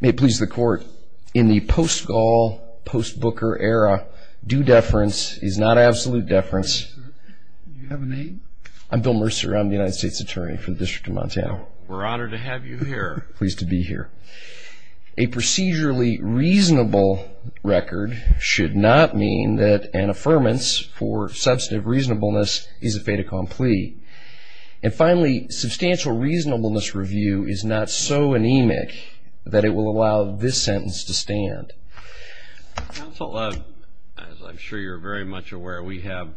May it please the Court, in the post-Gaul, post-Booker era, due deference is not absolute deference. Mr. Mercer, do you have a name? I'm Bill Mercer. I'm the United States Attorney for the District of Montana. We're honored to have you here. Pleased to be here. A procedurally reasonable record should not mean that an affirmance for substantive reasonableness is a fait accompli. And finally, substantial reasonableness review is not so anemic that it will allow this sentence to stand. Counsel, as I'm sure you're very much aware, we have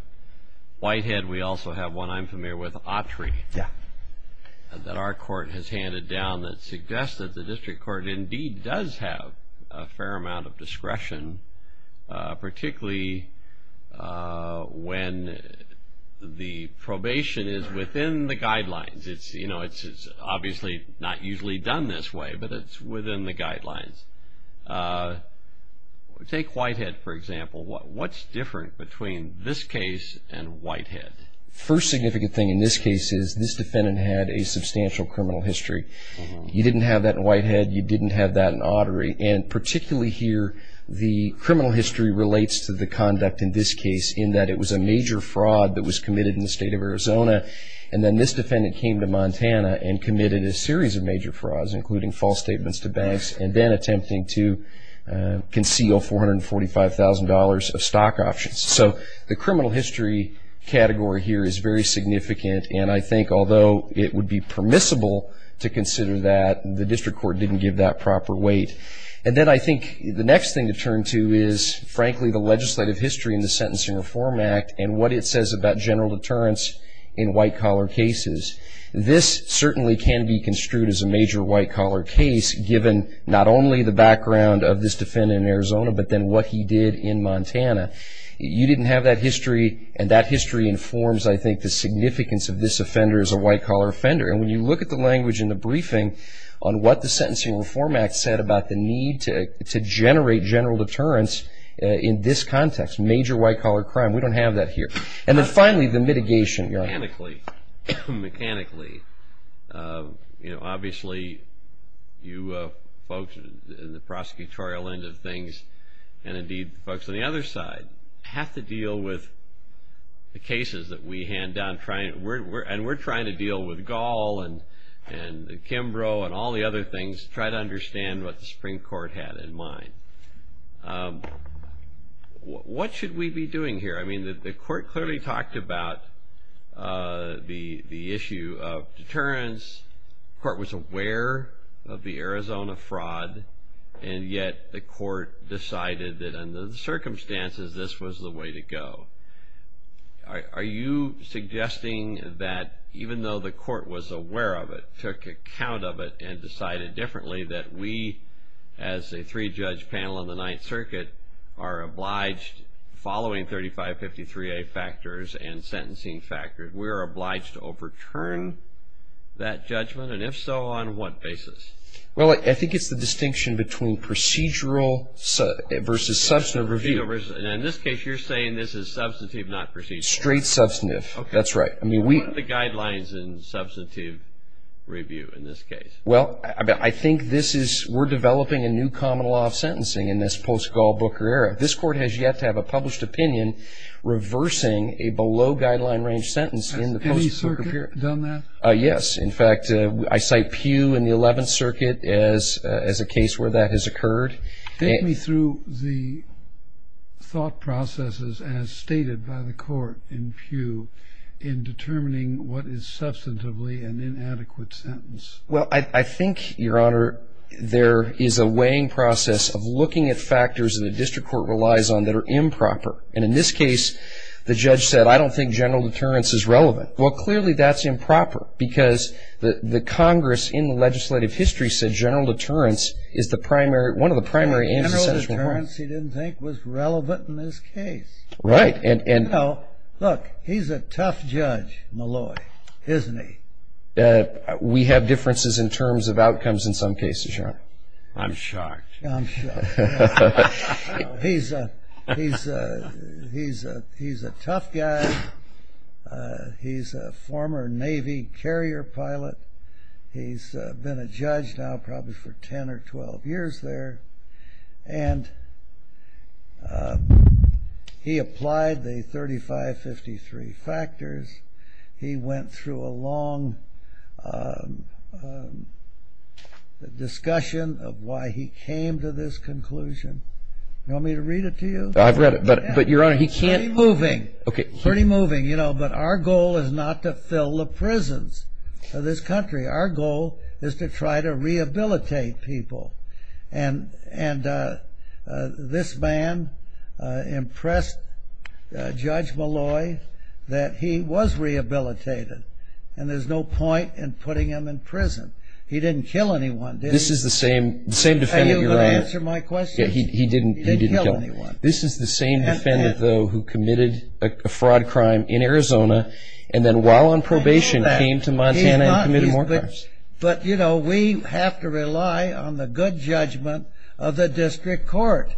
Whitehead. We also have one I'm familiar with, Autry, that our court has handed down that suggests that the district court indeed does have a fair amount of discretion, particularly when the probation is within the guidelines. It's obviously not usually done this way, but it's within the guidelines. Take Whitehead, for example. What's different between this case and Whitehead? First significant thing in this case is this defendant had a substantial criminal history. You didn't have that in Whitehead. You didn't have that in Autry. And particularly here, the criminal history relates to the conduct in this case, in that it was a major fraud that was committed in the state of Arizona. And then this defendant came to Montana and committed a series of major frauds, including false statements to banks and then attempting to conceal $445,000 of stock options. So the criminal history category here is very significant, and I think although it would be permissible to consider that, the district court didn't give that proper weight. And then I think the next thing to turn to is, frankly, the legislative history in the Sentencing Reform Act and what it says about general deterrence in white-collar cases. This certainly can be construed as a major white-collar case, given not only the background of this defendant in Arizona, but then what he did in Montana. You didn't have that history, and that history informs, I think, the significance of this offender as a white-collar offender. And when you look at the language in the briefing on what the Sentencing Reform Act said about the need to generate general deterrence in this context, major white-collar crime, we don't have that here. And then finally, the mitigation. Mechanically, you know, obviously you folks in the prosecutorial end of things and indeed the folks on the other side have to deal with the cases that we hand down, and we're trying to deal with Gall and Kimbrough and all the other things, try to understand what the Supreme Court had in mind. What should we be doing here? I mean, the court clearly talked about the issue of deterrence. The court was aware of the Arizona fraud, and yet the court decided that under the circumstances this was the way to go. Are you suggesting that even though the court was aware of it, took account of it, and decided differently, that we as a three-judge panel in the Ninth Circuit are obliged, following 3553A factors and sentencing factors, we're obliged to overturn that judgment? And if so, on what basis? Well, I think it's the distinction between procedural versus substantive review. And in this case, you're saying this is substantive, not procedural. Straight substantive. That's right. What are the guidelines in substantive review in this case? Well, I think we're developing a new common law of sentencing in this post-Gall-Booker era. This court has yet to have a published opinion reversing a below-guideline range sentence in the post-Circuit period. Has any circuit done that? Yes. In fact, I cite Pew in the Eleventh Circuit as a case where that has occurred. Take me through the thought processes as stated by the court in Pew in determining what is substantively an inadequate sentence. Well, I think, Your Honor, there is a weighing process of looking at factors that the district court relies on that are improper. And in this case, the judge said, I don't think general deterrence is relevant. Well, clearly that's improper because the Congress in legislative history said general deterrence is one of the primary answers. General deterrence he didn't think was relevant in this case. Right. Now, look, he's a tough judge, Malloy, isn't he? We have differences in terms of outcomes in some cases, Your Honor. I'm shocked. I'm shocked. He's a tough guy. He's a former Navy carrier pilot. He's been a judge now probably for 10 or 12 years there. And he applied the 3553 factors. He went through a long discussion of why he came to this conclusion. You want me to read it to you? I've read it. But, Your Honor, he can't. Pretty moving. Pretty moving, you know. But our goal is not to fill the prisons for this country. Our goal is to try to rehabilitate people. And this man impressed Judge Malloy that he was rehabilitated and there's no point in putting him in prison. He didn't kill anyone, did he? This is the same defendant, Your Honor. Are you going to answer my question? He didn't kill anyone. This is the same defendant, though, who committed a fraud crime in Arizona and then while on probation came to Montana and committed more crimes. But, you know, we have to rely on the good judgment of the district court.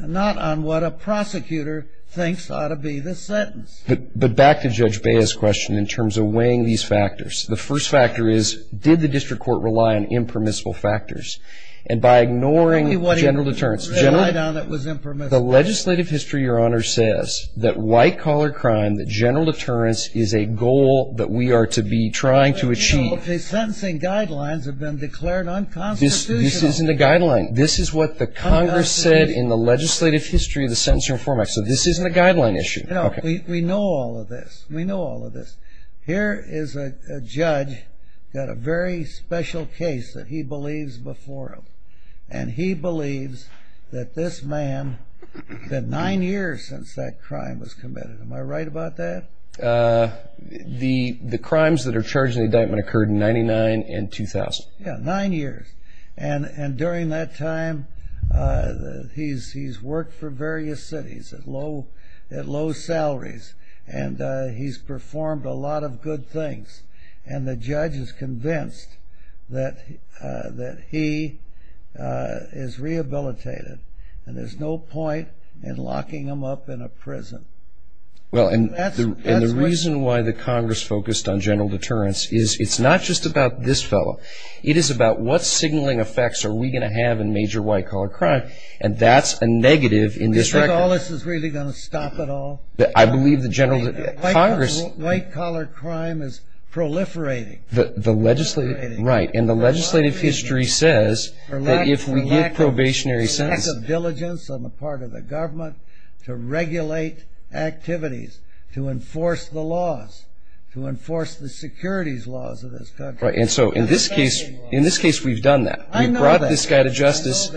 Not on what a prosecutor thinks ought to be the sentence. But back to Judge Baez's question in terms of weighing these factors. The first factor is did the district court rely on impermissible factors? And by ignoring general deterrence, the legislative history, Your Honor, says that white-collar crime, is a goal that we are to be trying to achieve. Sentencing guidelines have been declared unconstitutional. This isn't a guideline. This is what the Congress said in the legislative history of the Sentencing Reform Act. So this isn't a guideline issue. We know all of this. We know all of this. Here is a judge who had a very special case that he believes before him. And he believes that this man had nine years since that crime was committed. Am I right about that? The crimes that are charged in the indictment occurred in 99 and 2000. Yeah, nine years. And during that time, he's worked for various cities at low salaries. And he's performed a lot of good things. And the judge is convinced that he is rehabilitated. And there's no point in locking him up in a prison. Well, and the reason why the Congress focused on general deterrence is it's not just about this fellow. It is about what signaling effects are we going to have in major white-collar crime. And that's a negative in this record. You think all this is really going to stop at all? I believe the general, Congress. White-collar crime is proliferating. The legislative, right. And the legislative history says that if we give probationary sentences. Diligence on the part of the government to regulate activities, to enforce the laws, to enforce the securities laws of this country. And so in this case, we've done that. I know that. We brought this guy to justice.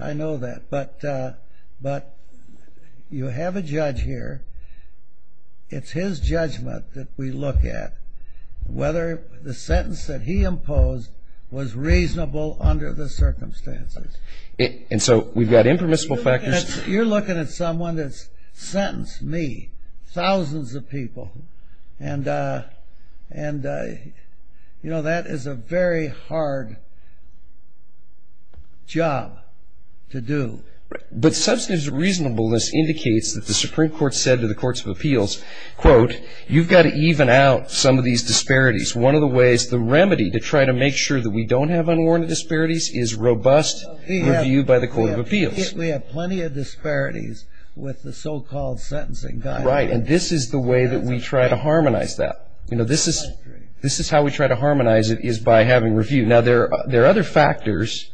I know that. But you have a judge here. It's his judgment that we look at whether the sentence that he imposed was reasonable under the circumstances. And so we've got impermissible factors. You're looking at someone that's sentenced, me, thousands of people. And, you know, that is a very hard job to do. But substantive reasonableness indicates that the Supreme Court said to the Courts of Appeals, quote, you've got to even out some of these disparities. One of the ways, the remedy to try to make sure that we don't have unwarranted disparities is robust review by the Court of Appeals. We have plenty of disparities with the so-called sentencing guide. Right. And this is the way that we try to harmonize that. You know, this is how we try to harmonize it is by having review. Now, there are other factors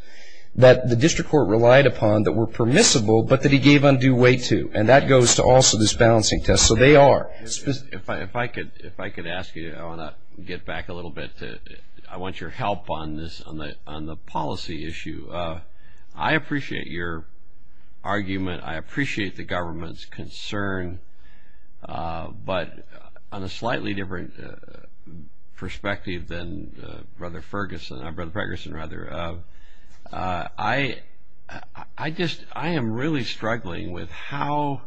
that the district court relied upon that were permissible but that he gave undue weight to. And that goes to also this balancing test. So they are. If I could ask you, I want to get back a little bit. I want your help on this, on the policy issue. I appreciate your argument. I appreciate the government's concern. But on a slightly different perspective than Brother Ferguson, Brother Ferguson rather, I just, I am really struggling with how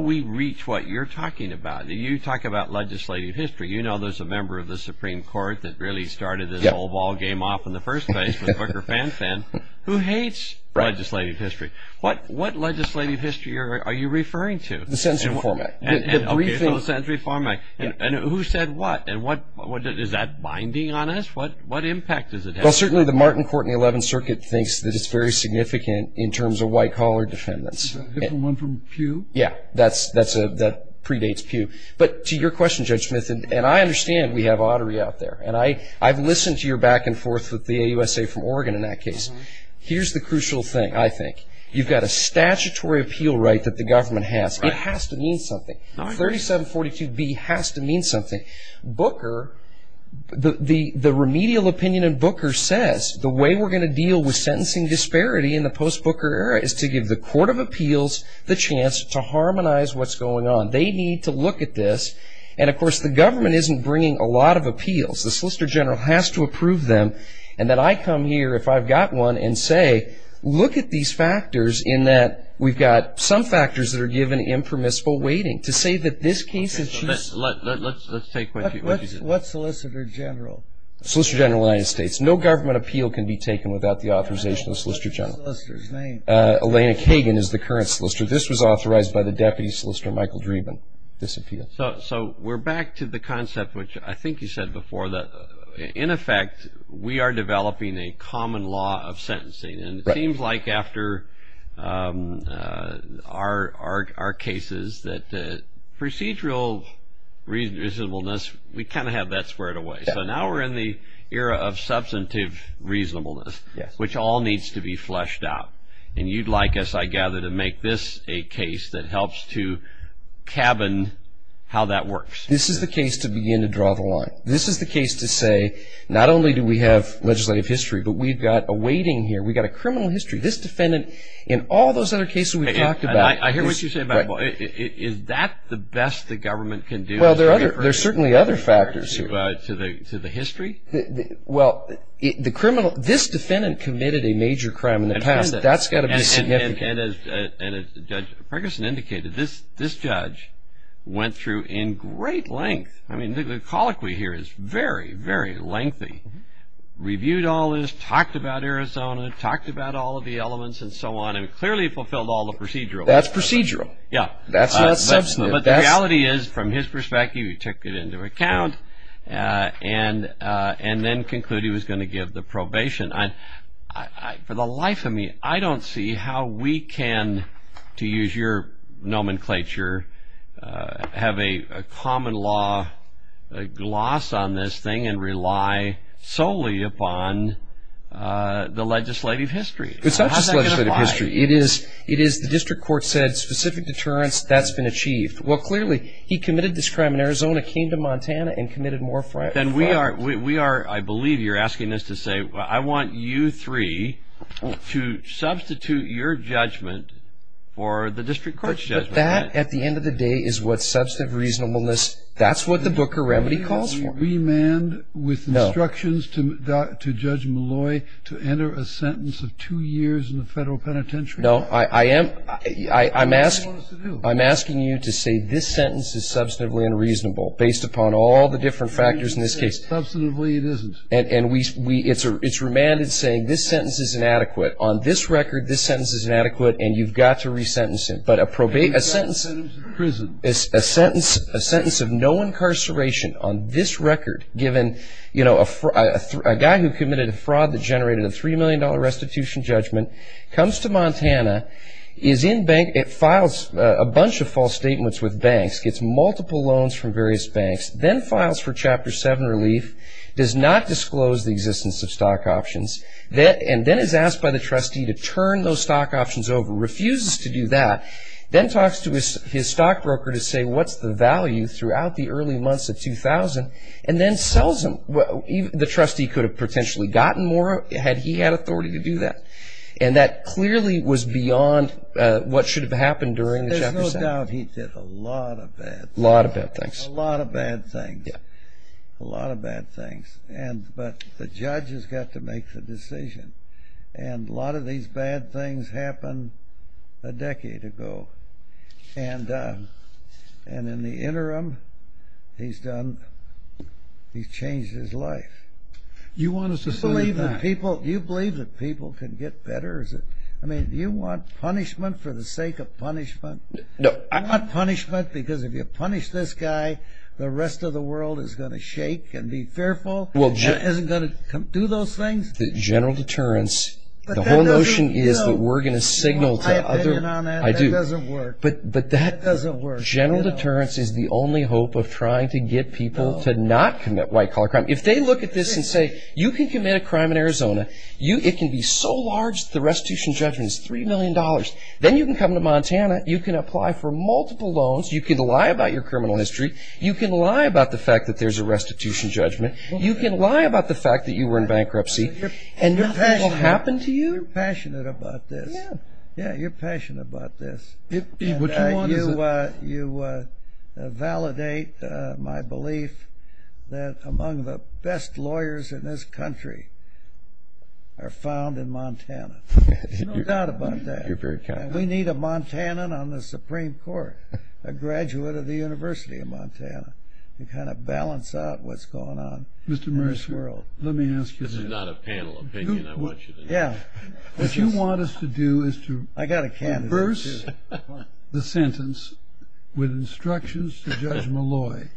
we reach what you're talking about. You talk about legislative history. You know there's a member of the Supreme Court that really started this whole ball game off in the first place with Booker Fenton, who hates legislative history. What legislative history are you referring to? The century format. Okay, so the century format. And who said what? Is that binding on us? What impact does it have? Well, certainly the Martin Courtney 11th Circuit thinks that it's very significant in terms of white-collar defendants. Is that a different one from Pew? Yeah. That predates Pew. But to your question, Judge Smith, and I understand we have artery out there. And I've listened to your back and forth with the AUSA from Oregon in that case. Here's the crucial thing, I think. You've got a statutory appeal right that the government has. It has to mean something. 3742B has to mean something. Booker, the remedial opinion in Booker says the way we're going to deal with sentencing disparity in the post-Booker era is to give the court of appeals the chance to harmonize what's going on. They need to look at this. And, of course, the government isn't bringing a lot of appeals. The Solicitor General has to approve them. And then I come here, if I've got one, and say, look at these factors in that we've got some factors that are given impermissible waiting to say that this case is true. Let's take one. What Solicitor General? Solicitor General of the United States. No government appeal can be taken without the authorization of the Solicitor General. Elena Kagan is the current solicitor. This was authorized by the Deputy Solicitor, Michael Dreeben, this appeal. So we're back to the concept, which I think you said before. In effect, we are developing a common law of sentencing. And it seems like after our cases that procedural reasonableness, we kind of have that squared away. So now we're in the era of substantive reasonableness, which all needs to be fleshed out. And you'd like us, I gather, to make this a case that helps to cabin how that works. This is the case to begin to draw the line. This is the case to say not only do we have legislative history, but we've got a waiting here. We've got a criminal history. This defendant, in all those other cases we've talked about. I hear what you say about it. Is that the best the government can do? Well, there are certainly other factors here. To the history? Well, this defendant committed a major crime in the past. That's got to be suggested. And as Judge Ferguson indicated, this judge went through in great length. I mean, the colloquy here is very, very lengthy. Reviewed all this, talked about Arizona, talked about all of the elements and so on, and clearly fulfilled all the procedural. That's procedural. Yeah. That's substantive. But the reality is, from his perspective, he took it into account and then concluded he was going to give the probation. For the life of me, I don't see how we can, to use your nomenclature, have a common law gloss on this thing and rely solely upon the legislative history. It's not just legislative history. It is the district court said specific deterrence, that's been achieved. Well, clearly, he committed this crime in Arizona, came to Montana and committed more crimes. Then we are, I believe you're asking us to say, well, I want you three to substitute your judgment for the district court's judgment. But that, at the end of the day, is what substantive reasonableness, that's what the Booker Remedy calls for. Remand with instructions to Judge Malloy to enter a sentence of two years in the federal penitentiary? No, I'm asking you to say this sentence is substantively unreasonable, based upon all the different factors in this case. Substantively, it isn't. And it's remanded saying this sentence is inadequate. On this record, this sentence is inadequate and you've got to resentence it. But a sentence of no incarceration on this record, given a guy who committed a fraud that generated a $3 million restitution judgment comes to Montana, is in bank, it files a bunch of false statements with banks, gets multiple loans from various banks, then files for Chapter 7 relief, does not disclose the existence of stock options, and then is asked by the trustee to turn those stock options over, refuses to do that, then talks to his stockbroker to say what's the value throughout the early months of 2000, and then sells them. The trustee could have potentially gotten more had he had authority to do that. And that clearly was beyond what should have happened during the Chapter 7. There's no doubt he did a lot of bad things. A lot of bad things. A lot of bad things. Yeah. A lot of bad things. But the judge has got to make the decision. And a lot of these bad things happened a decade ago. And in the interim, he's changed his life. Do you believe that people can get better? I mean, do you want punishment for the sake of punishment? No. Do you want punishment because if you punish this guy, the rest of the world is going to shake and be fearful? Is it going to do those things? General deterrence. The whole notion is that we're going to signal to others. I have opinion on that. I do. That doesn't work. General deterrence is the only hope of trying to get people to not commit white collar crime. If they look at this and say, you can commit a crime in Arizona. It can be so large that the restitution judgment is $3 million. Then you can come to Montana. You can apply for multiple loans. You can lie about your criminal history. You can lie about the fact that there's a restitution judgment. You can lie about the fact that you were in bankruptcy. And nothing will happen to you. You're passionate about this. Yeah. Yeah, you're passionate about this. You validate my belief that among the best lawyers in this country are found in Montana. You know that about that. We need a Montanan on the Supreme Court, a graduate of the University of Montana, to kind of balance out what's going on in this world. This is not a panel opinion. I want you to know that. What you want us to do is to reverse the sentence with instructions to Judge Malloy,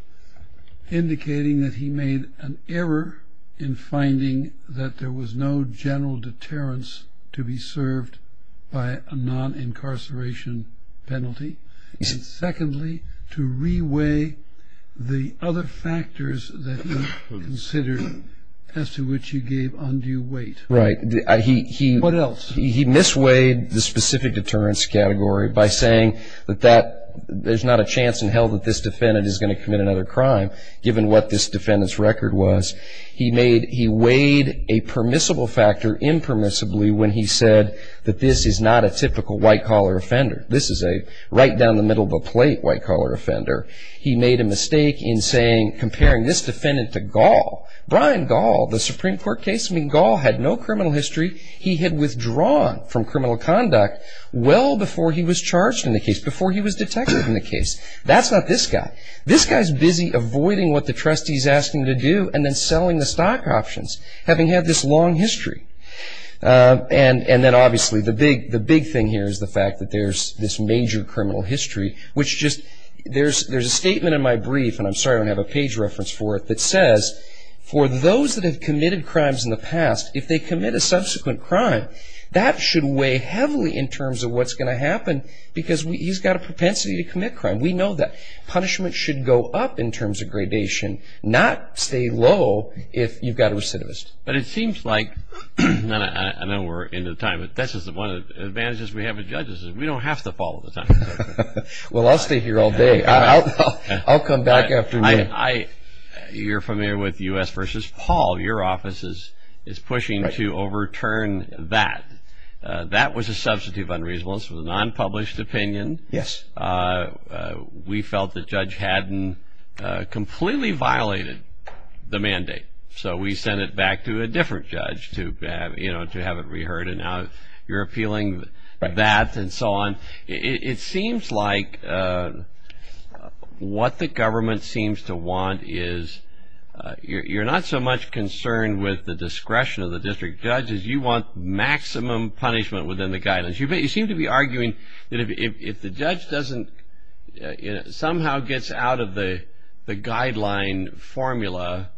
indicating that he made an error in finding that there was no general deterrence to be served by a non-incarceration penalty. And secondly, to reweigh the other factors that you considered as to which you gave undue weight. Right. What else? He misweighed the specific deterrence category by saying that there's not a chance in hell that this defendant is going to commit another crime, given what this defendant's record was. He weighed a permissible factor impermissibly when he said that this is not a typical white-collar offender. This is a right down the middle of a plate white-collar offender. He made a mistake in comparing this defendant to Gall. Brian Gall, the Supreme Court case, I mean, Gall had no criminal history. He had withdrawn from criminal conduct well before he was charged in the case, before he was detected in the case. That's not this guy. This guy's busy avoiding what the trustee's asking him to do and then selling the stock options, having had this long history. And then obviously the big thing here is the fact that there's this major criminal history, which just, there's a statement in my brief, and I'm sorry I don't have a page reference for it, that says, for those that have committed crimes in the past, if they commit a subsequent crime, that should weigh heavily in terms of what's going to happen because he's got a propensity to commit crime. We know that. Punishment should go up in terms of gradation, not stay low if you've got a recidivist. But it seems like, I know we're into time, but one of the advantages we have as judges is we don't have to follow the time. Well, I'll stay here all day. I'll come back after me. You're familiar with U.S. versus Paul. Your office is pushing to overturn that. That was a substitute of unreasonable. This was a non-published opinion. Yes. We felt the judge hadn't completely violated the mandate. So we sent it back to a different judge to have it reheard, and now you're appealing that and so on. It seems like what the government seems to want is you're not so much concerned with the discretion of the district judge as you want maximum punishment within the guidance. You seem to be arguing that if the judge somehow gets out of the guideline formula,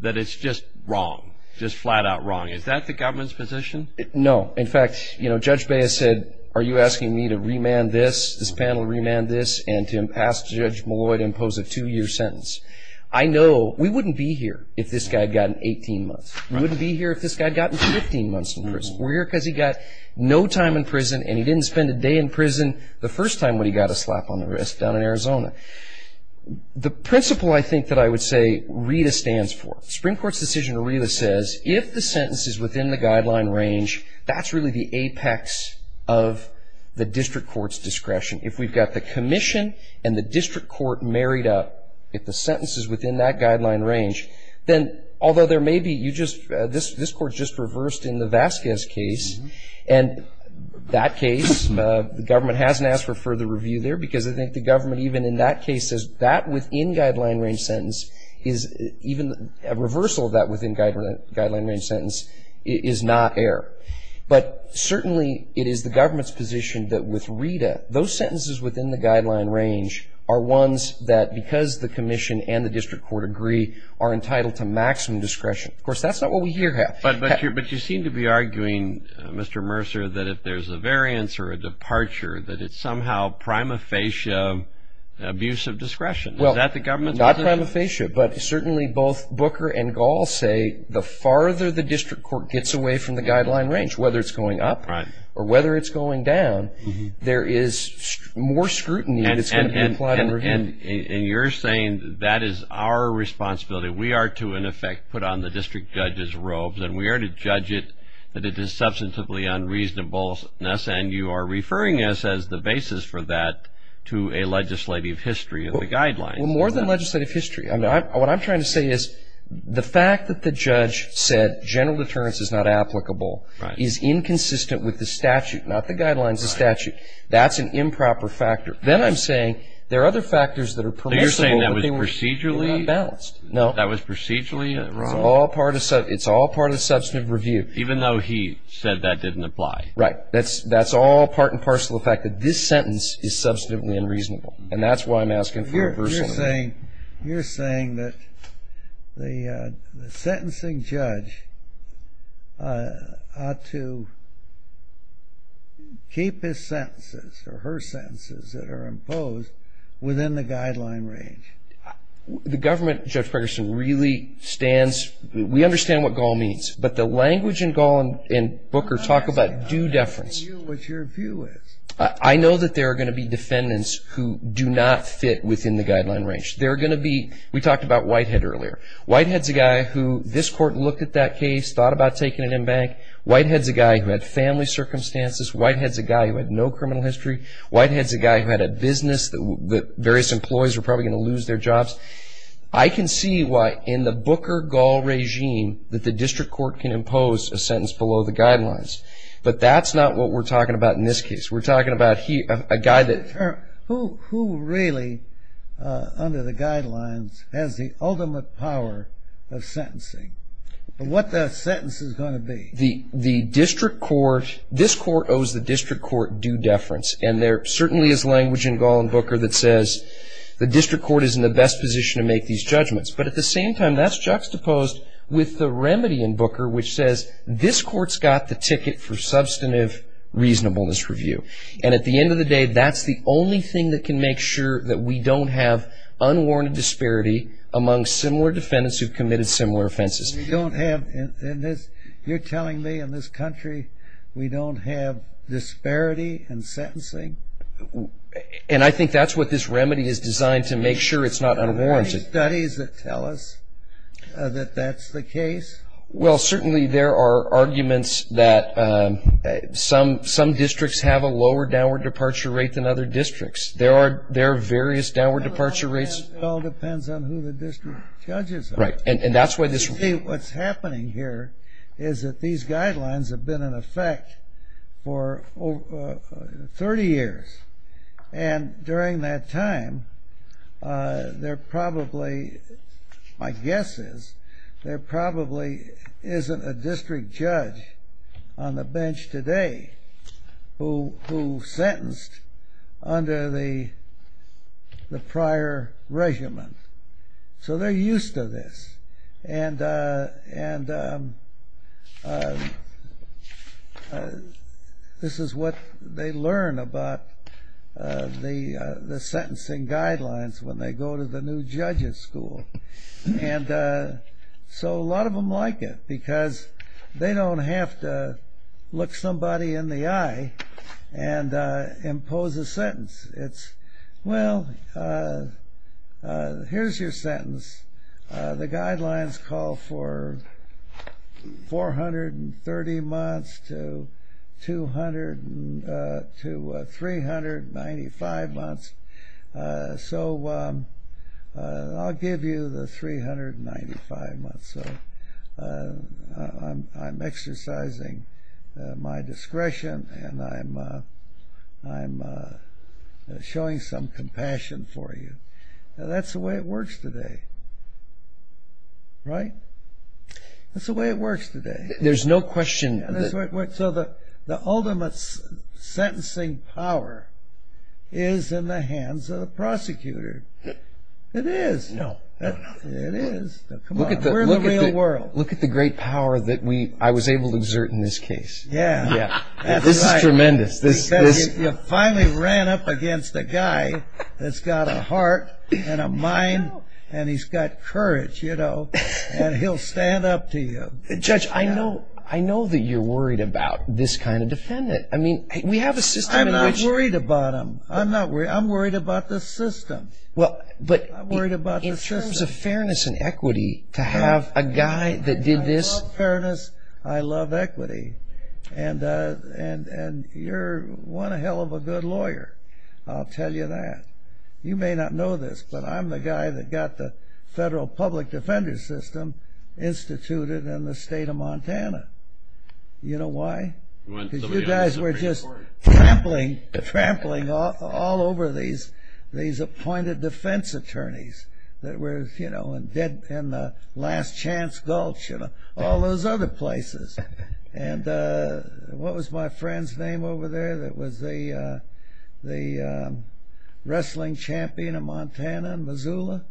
that it's just wrong, just flat-out wrong. Is that the government's position? No. In fact, Judge Baez said, are you asking me to remand this, this panel remand this, and to ask Judge Malloy to impose a two-year sentence? I know we wouldn't be here if this guy had gotten 18 months. We wouldn't be here if this guy had gotten 15 months in prison. We're here because he got no time in prison and he didn't spend a day in prison the first time when he got a slap on the wrist down in Arizona. The principle, I think, that I would say RETA stands for, Supreme Court's decision in RETA says if the sentence is within the guideline range, that's really the apex of the district court's discretion. If we've got the commission and the district court married up, if the sentence is within that guideline range, then although there may be, you just, this court just reversed in the Vasquez case, and that case the government hasn't asked for further review there because I think the government even in that case says that within guideline range sentence is even a reversal of that within guideline range sentence is not error. But certainly it is the government's position that with RETA, those sentences within the guideline range are ones that because the commission and the district court agree, are entitled to maximum discretion. Of course, that's not what we here have. But you seem to be arguing, Mr. Mercer, that if there's a variance or a departure, that it's somehow prima facie abuse of discretion. Is that the government's position? Not prima facie, but certainly both Booker and Gall say the farther the district court gets away from the guideline range, whether it's going up or whether it's going down, there is more scrutiny that's going to be implied in review. And you're saying that is our responsibility. We are to, in effect, put on the district judge's robes, and we are to judge it that it is substantively unreasonable, and you are referring us as the basis for that to a legislative history of the guidelines. Well, more than legislative history. What I'm trying to say is the fact that the judge said general deterrence is not applicable is inconsistent with the statute, not the guidelines, the statute. That's an improper factor. Then I'm saying there are other factors that are predictable. But you're saying that was procedurally unbalanced? No. That was procedurally unbalanced? It's all part of substantive review. Even though he said that didn't apply? Right. That's all part and parcel of the fact that this sentence is substantively unreasonable, and that's why I'm asking for a personal review. You're saying that the sentencing judge ought to keep his sentences or her sentences that are imposed within the guideline range. The government, Judge Ferguson, really stands, we understand what goal means, but the language in goal and Booker talk about due deference. I know what your view is. I know that there are going to be defendants who do not fit within the guideline range. They're going to be, we talked about Whitehead earlier. Whitehead's a guy who this court looked at that case, thought about taking it in bank. Whitehead's a guy who had family circumstances. Whitehead's a guy who had no criminal history. Whitehead's a guy who had a business that various employees were probably going to lose their jobs. I can see why in the Booker-Gaul regime that the district court can impose a sentence below the guidelines, but that's not what we're talking about in this case. We're talking about a guy that... Who really, under the guidelines, has the ultimate power of sentencing? What that sentence is going to be. The district court, this court owes the district court due deference, and there certainly is language in goal in Booker that says the district court is in the best position to make these judgments. But at the same time, that's juxtaposed with the remedy in Booker, which says, this court's got the ticket for substantive reasonableness review. And at the end of the day, that's the only thing that can make sure that we don't have unwarranted disparity among similar defendants who've committed similar offenses. You're telling me in this country we don't have disparity in sentencing? And I think that's what this remedy is designed to make sure it's not unwarranted. Are there any studies that tell us that that's the case? Well, certainly there are arguments that some districts have a lower downward departure rate than other districts. There are various downward departure rates. It all depends on who the district judge is. What's happening here is that these guidelines have been in effect for 30 years. And during that time, there probably, my guess is, there probably isn't a district judge on the bench today who sentenced under the prior regimen. So they're used to this. And this is what they learn about the sentencing guidelines when they go to the new judges school. And so a lot of them like it because they don't have to look somebody in the eye and impose a sentence. Well, here's your sentence. The guidelines call for 430 months to 395 months. So I'll give you the 395 months. So I'm exercising my discretion and I'm showing some compassion for you. That's the way it works today, right? That's the way it works today. There's no question. So the ultimate sentencing power is in the hands of the prosecutor. It is. No. It is. We're in the real world. Look at the great power that I was able to exert in this case. Yeah. This is tremendous. You finally ran up against a guy that's got a heart and a mind and he's got courage, you know. And he'll stand up to you. Judge, I know that you're worried about this kind of defendant. I mean, we have a system. I'm not worried about him. I'm worried about the system. In terms of fairness and equity, to have a guy that did this. I love fairness. I love equity. And you're one hell of a good lawyer, I'll tell you that. You may not know this, but I'm the guy that got the federal public defender system instituted in the state of Montana. You know why? Because you guys were just trampling all over these appointed defense attorneys that were, you know, in the last chance gulch and all those other places. And what was my friend's name over there that was the wrestling champion of Montana and Missoula?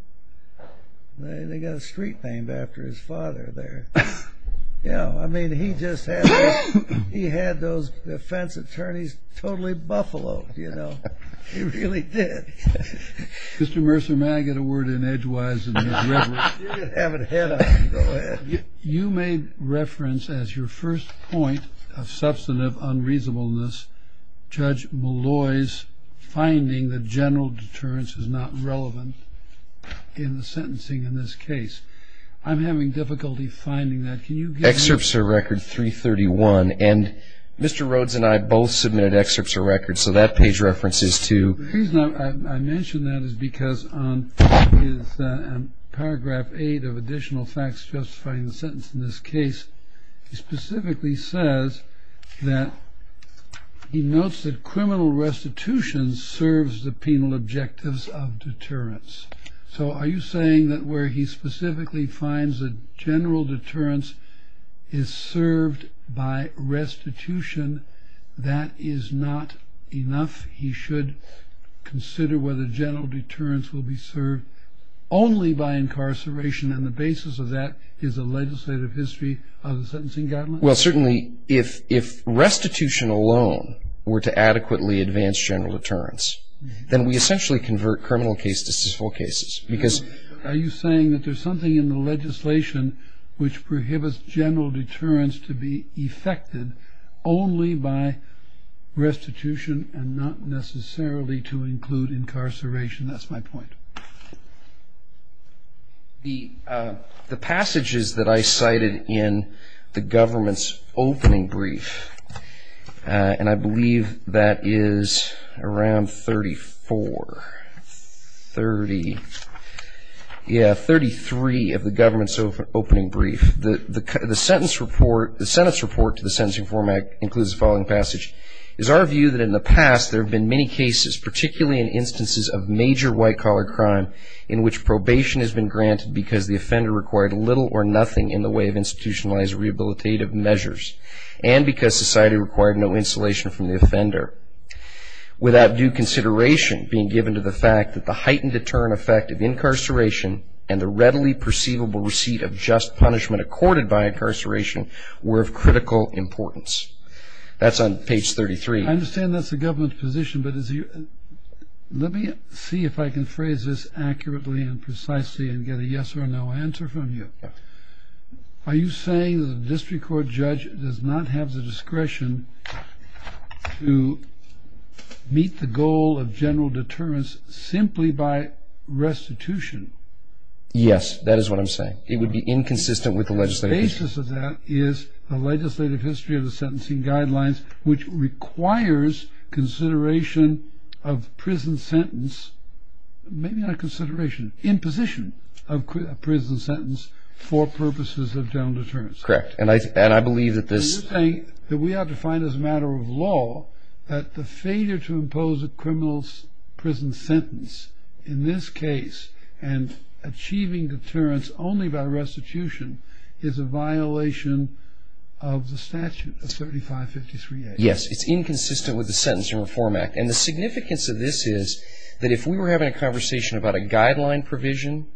They got a street named after his father there. Yeah, I mean, he just had those defense attorneys totally Buffalo, you know. He really did. Mr. Mercer, may I get a word in edgewise? You made reference as your first point of substantive unreasonableness, Judge Malloy's finding that general deterrence is not relevant in the sentencing in this case. I'm having difficulty finding that. Can you give me? Excerpts of record 331. And Mr. Rhodes and I both submitted excerpts of records. So that page references to. I mentioned that is because on paragraph eight of additional facts justifying the sentence in this case, he specifically says that he knows that criminal restitution serves the penal objectives of deterrence. So are you saying that where he specifically finds the general deterrence is served by restitution? That is not enough. He should consider whether general deterrence will be served only by incarceration. And the basis of that is a legislative history of the sentencing government. Well, certainly, if restitution alone were to adequately advance general deterrence, then we essentially convert criminal cases to full cases because. Are you saying that there's something in the legislation which prohibits general deterrence to be effected only by restitution and not necessarily to include incarceration? That's my point. The passages that I cited in the government's opening brief, and I believe that is around 34, 30, yeah, 33 of the government's opening brief. The sentence report to the Sentencing Reform Act includes the following passage. It is our view that in the past there have been many cases, particularly in instances of major white-collar crime, in which probation has been granted because the offender required little or nothing in the way of institutionalized rehabilitative measures and because society required no insulation from the offender, without due consideration being given to the fact that the heightened deterrent effect of incarceration and the readily perceivable receipt of just punishment accorded by incarceration were of critical importance. That's on page 33. I understand that's the government's position, but let me see if I can phrase this accurately and precisely and get a yes or no answer from you. Are you saying that the district court judge does not have the discretion to meet the goal of general deterrence simply by restitution? Yes, that is what I'm saying. It would be inconsistent with the legislative history. The basis of that is the legislative history of the sentencing guidelines, which requires consideration of prison sentence, maybe not consideration, imposition of prison sentence for purposes of general deterrence. Correct. And I believe that this... Are you saying that we have to find as a matter of law that the failure to impose a criminal prison sentence in this case and achieving deterrence only by restitution is a violation of the statute of 7553A? Yes, it's inconsistent with the Sentencing Reform Act. And the significance of this is that if we were having a conversation about a guideline provision,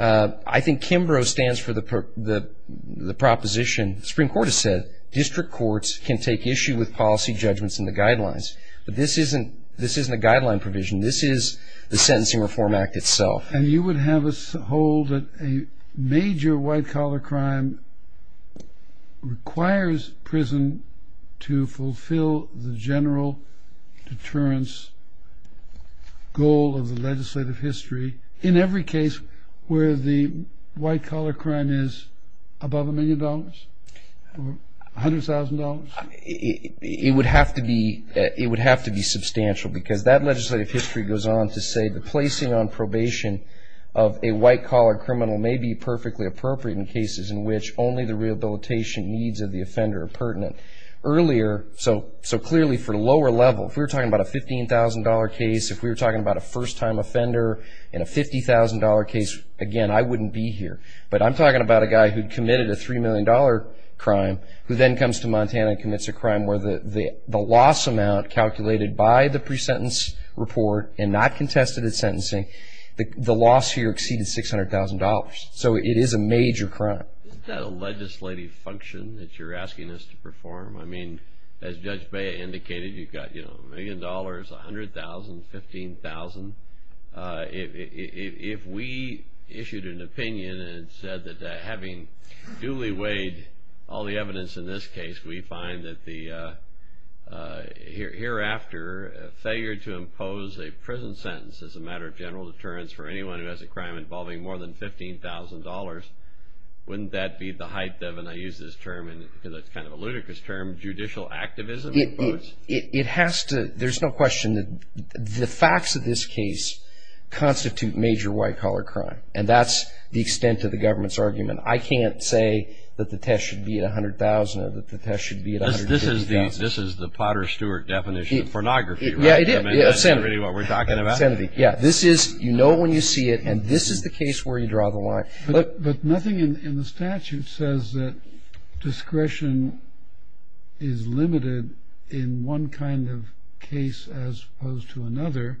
I think Kimbrough stands for the proposition, the Supreme Court has said, district courts can take issue with policy judgments in the guidelines. But this isn't a guideline provision. This is the Sentencing Reform Act itself. And you would have us hold that a major white-collar crime requires prison to fulfill the general deterrence goal of the legislative history in every case where the white-collar crime is above a million dollars, $100,000? It would have to be substantial because that legislative history goes on to say that placing on probation of a white-collar criminal may be perfectly appropriate in cases in which only the rehabilitation needs of the offender are pertinent. Earlier, so clearly for lower level, if we were talking about a $15,000 case, if we were talking about a first-time offender in a $50,000 case, again, I wouldn't be here. But I'm talking about a guy who committed a $3 million crime who then comes to Montana and commits a crime where the loss amount calculated by the pre-sentence report and not contested in sentencing, the loss here exceeded $600,000. So it is a major crime. Is that a legislative function that you're asking us to perform? I mean, as Judge Bea indicated, you've got, you know, a million dollars, $100,000, $15,000. If we issued an opinion and said that having duly weighed all the evidence in this case, we find that the hereafter failure to impose a prison sentence as a matter of general deterrence for anyone who has a crime involving more than $15,000, wouldn't that be the height of, and I use this term because it's kind of a ludicrous term, judicial activism? It has to. There's no question that the facts of this case constitute major white-collar crime, and that's the extent of the government's argument. I can't say that the test should be at $100,000 or that the test should be at $150,000. This is the Potter Stewart definition of pornography, right? Yeah, it is. Is that really what we're talking about? Yeah, this is, you know when you see it, and this is the case where you draw the line. But nothing in the statute says that discretion is limited in one kind of case as opposed to another,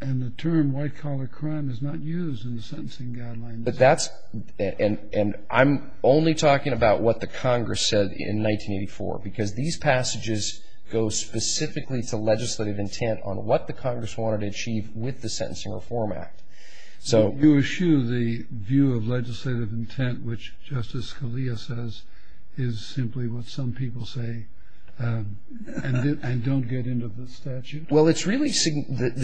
and the term white-collar crime is not used in the sentencing guidelines. And I'm only talking about what the Congress said in 1984, because these passages go specifically to legislative intent on what the Congress wanted to achieve with the Sentencing Reform Act. So you eschew the view of legislative intent, which Justice Scalia says is simply what some people say, and don't get into the statute? Well, the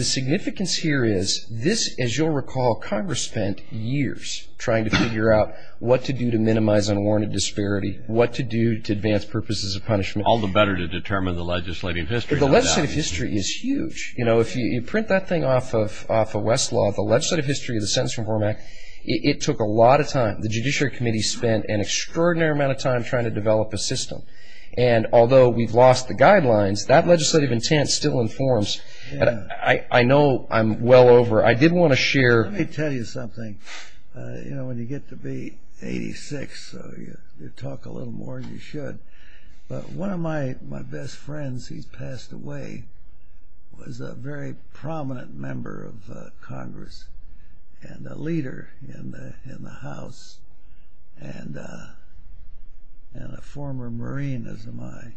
significance here is this, as you'll recall, Congress spent years trying to figure out what to do to minimize unwarranted disparity, what to do to advance purposes of punishment. All the better to determine the legislative history. But the legislative history is huge. You know, if you print that thing off of Westlaw, the legislative history of the Sentencing Reform Act, it took a lot of time. The Judiciary Committee spent an extraordinary amount of time trying to develop a system. And although we've lost the guidelines, that legislative intent still informs. I know I'm well over. I did want to share. Let me tell you something. You know, when you get to be 86, you talk a little more than you should. But one of my best friends who passed away was a very prominent member of Congress and a leader in the House and a former Marine of mine.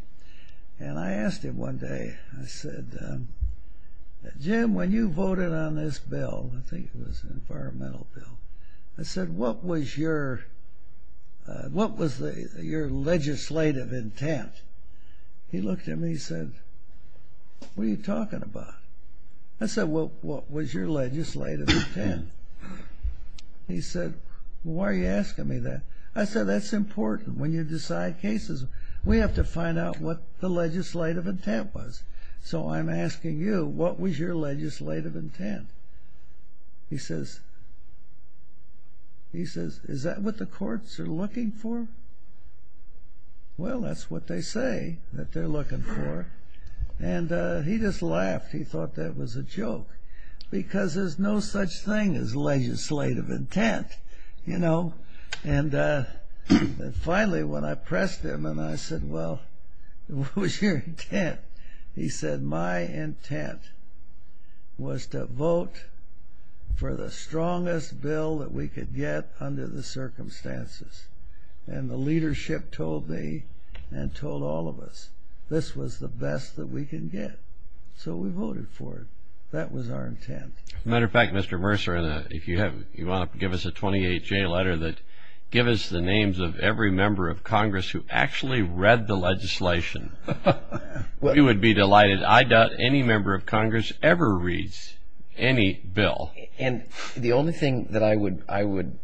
And I asked him one day, I said, Jim, when you voted on this bill, I think it was an environmental bill, I said, what was your legislative intent? He looked at me and said, what are you talking about? I said, well, what was your legislative intent? He said, why are you asking me that? I said, that's important when you decide cases. We have to find out what the legislative intent was. So I'm asking you, what was your legislative intent? He says, is that what the courts are looking for? Well, that's what they say that they're looking for. And he just laughed. He thought that was a joke because there's no such thing as legislative intent, you know. And finally, when I pressed him and I said, well, what was your intent? He said, my intent was to vote for the strongest bill that we could get under the circumstances. And the leadership told me and told all of us, this was the best that we could get. So we voted for it. That was our intent. As a matter of fact, Mr. Mercer, if you want to give us a 28-J letter, give us the names of every member of Congress who actually read the legislation. We would be delighted. I doubt any member of Congress ever reads any bill. And the only thing that I would,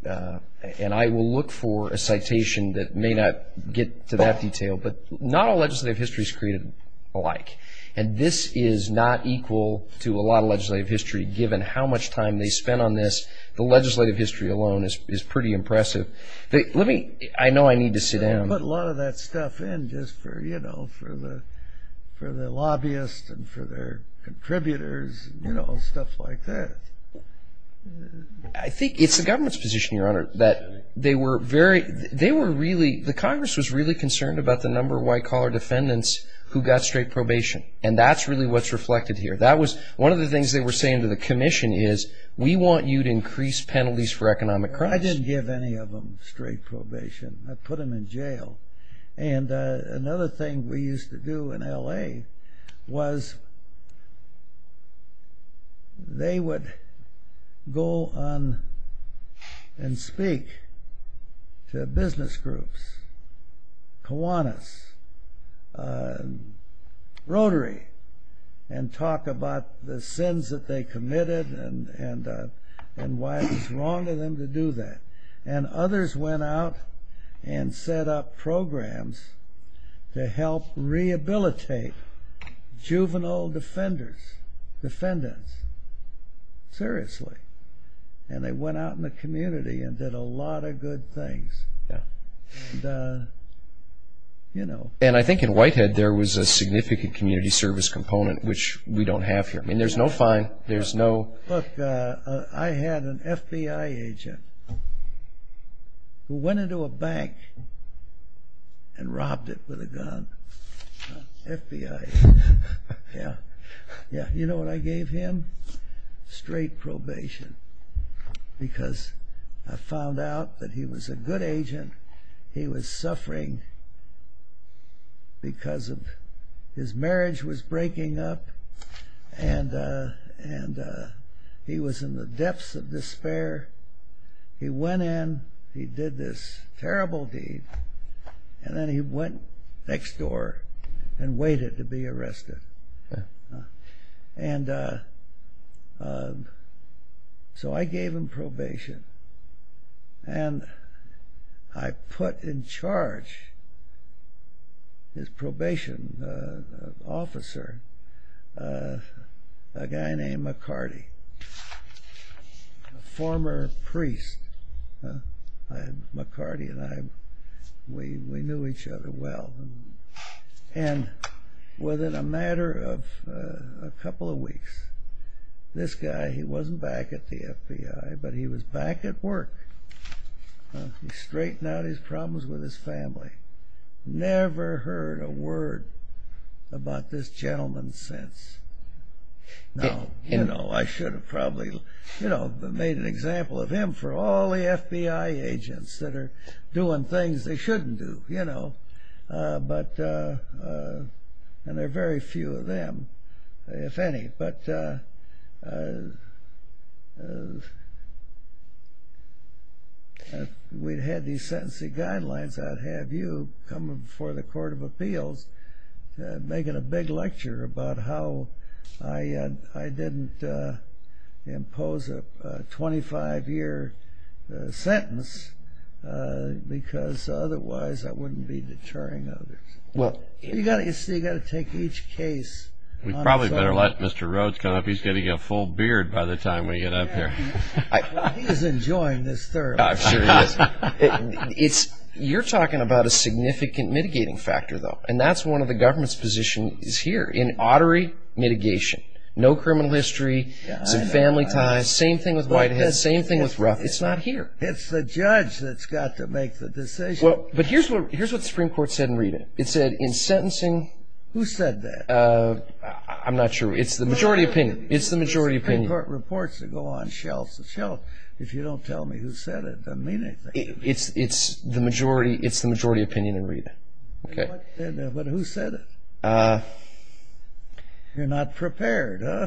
and I will look for a citation that may not get to that detail, but not all legislative history is created alike. And this is not equal to a lot of legislative history, given how much time they spent on this. The legislative history alone is pretty impressive. Let me, I know I need to sit down. I put a lot of that stuff in just for, you know, for the lobbyists and for their contributors, you know, stuff like that. I think it's the government's position, Your Honor, that they were very, they were really, the Congress was really concerned about the number of white-collar defendants who got straight probation. And that's really what's reflected here. That was one of the things they were saying to the commission is, we want you to increase penalties for economic crimes. I didn't give any of them straight probation. I put them in jail. And another thing we used to do in L.A. was they would go on and speak to business groups, Kiwanis, Rotary, and talk about the sins that they committed and why it was wrong of them to do that. And others went out and set up programs to help rehabilitate juvenile defenders, defendants, seriously. And they went out in the community and did a lot of good things. And, you know. And I think in Whitehead there was a significant community service component, which we don't have here. I mean, there's no fine. There's no. Look, I had an FBI agent who went into a bank and robbed it with a gun. FBI. You know what I gave him? Straight probation. Because I found out that he was a good agent. He was suffering because his marriage was breaking up. And he was in the depths of despair. He went in. He did this terrible deed. And then he went next door and waited to be arrested. And so I gave him probation. And I put in charge, his probation officer, a guy named McCarty, a former priest. McCarty and I, we knew each other well. And within a matter of a couple of weeks, this guy, he wasn't back at the FBI, but he was back at work. He straightened out his problems with his family. Never heard a word about this gentleman since. You know, I should have probably, you know, made an example of him for all the FBI agents that are doing things they shouldn't do, you know. And there are very few of them, if any. But we had these sentencing guidelines. I'd have you come before the Court of Appeals making a big lecture about how I didn't impose a 25-year sentence because otherwise that wouldn't be deterring others. You've got to take each case. We probably better let Mr. Rhodes come up. He's getting a full beard by the time we get up here. He's enjoying this, sir. Sure he is. You're talking about a significant mitigating factor, though. And that's one of the government's positions here, in orderly mitigation. No criminal history, no family ties, same thing with Whitehead, same thing with Ruff. It's not here. It's the judge that's got to make the decision. But here's what the Supreme Court said in reading it. It said in sentencing... Who said that? I'm not sure. It's the majority opinion. It's the majority opinion. Supreme Court reports that go on shelf to shelf. If you don't tell me who said it, I mean it. It's the majority opinion in reading it. But who said it? You're not prepared, huh?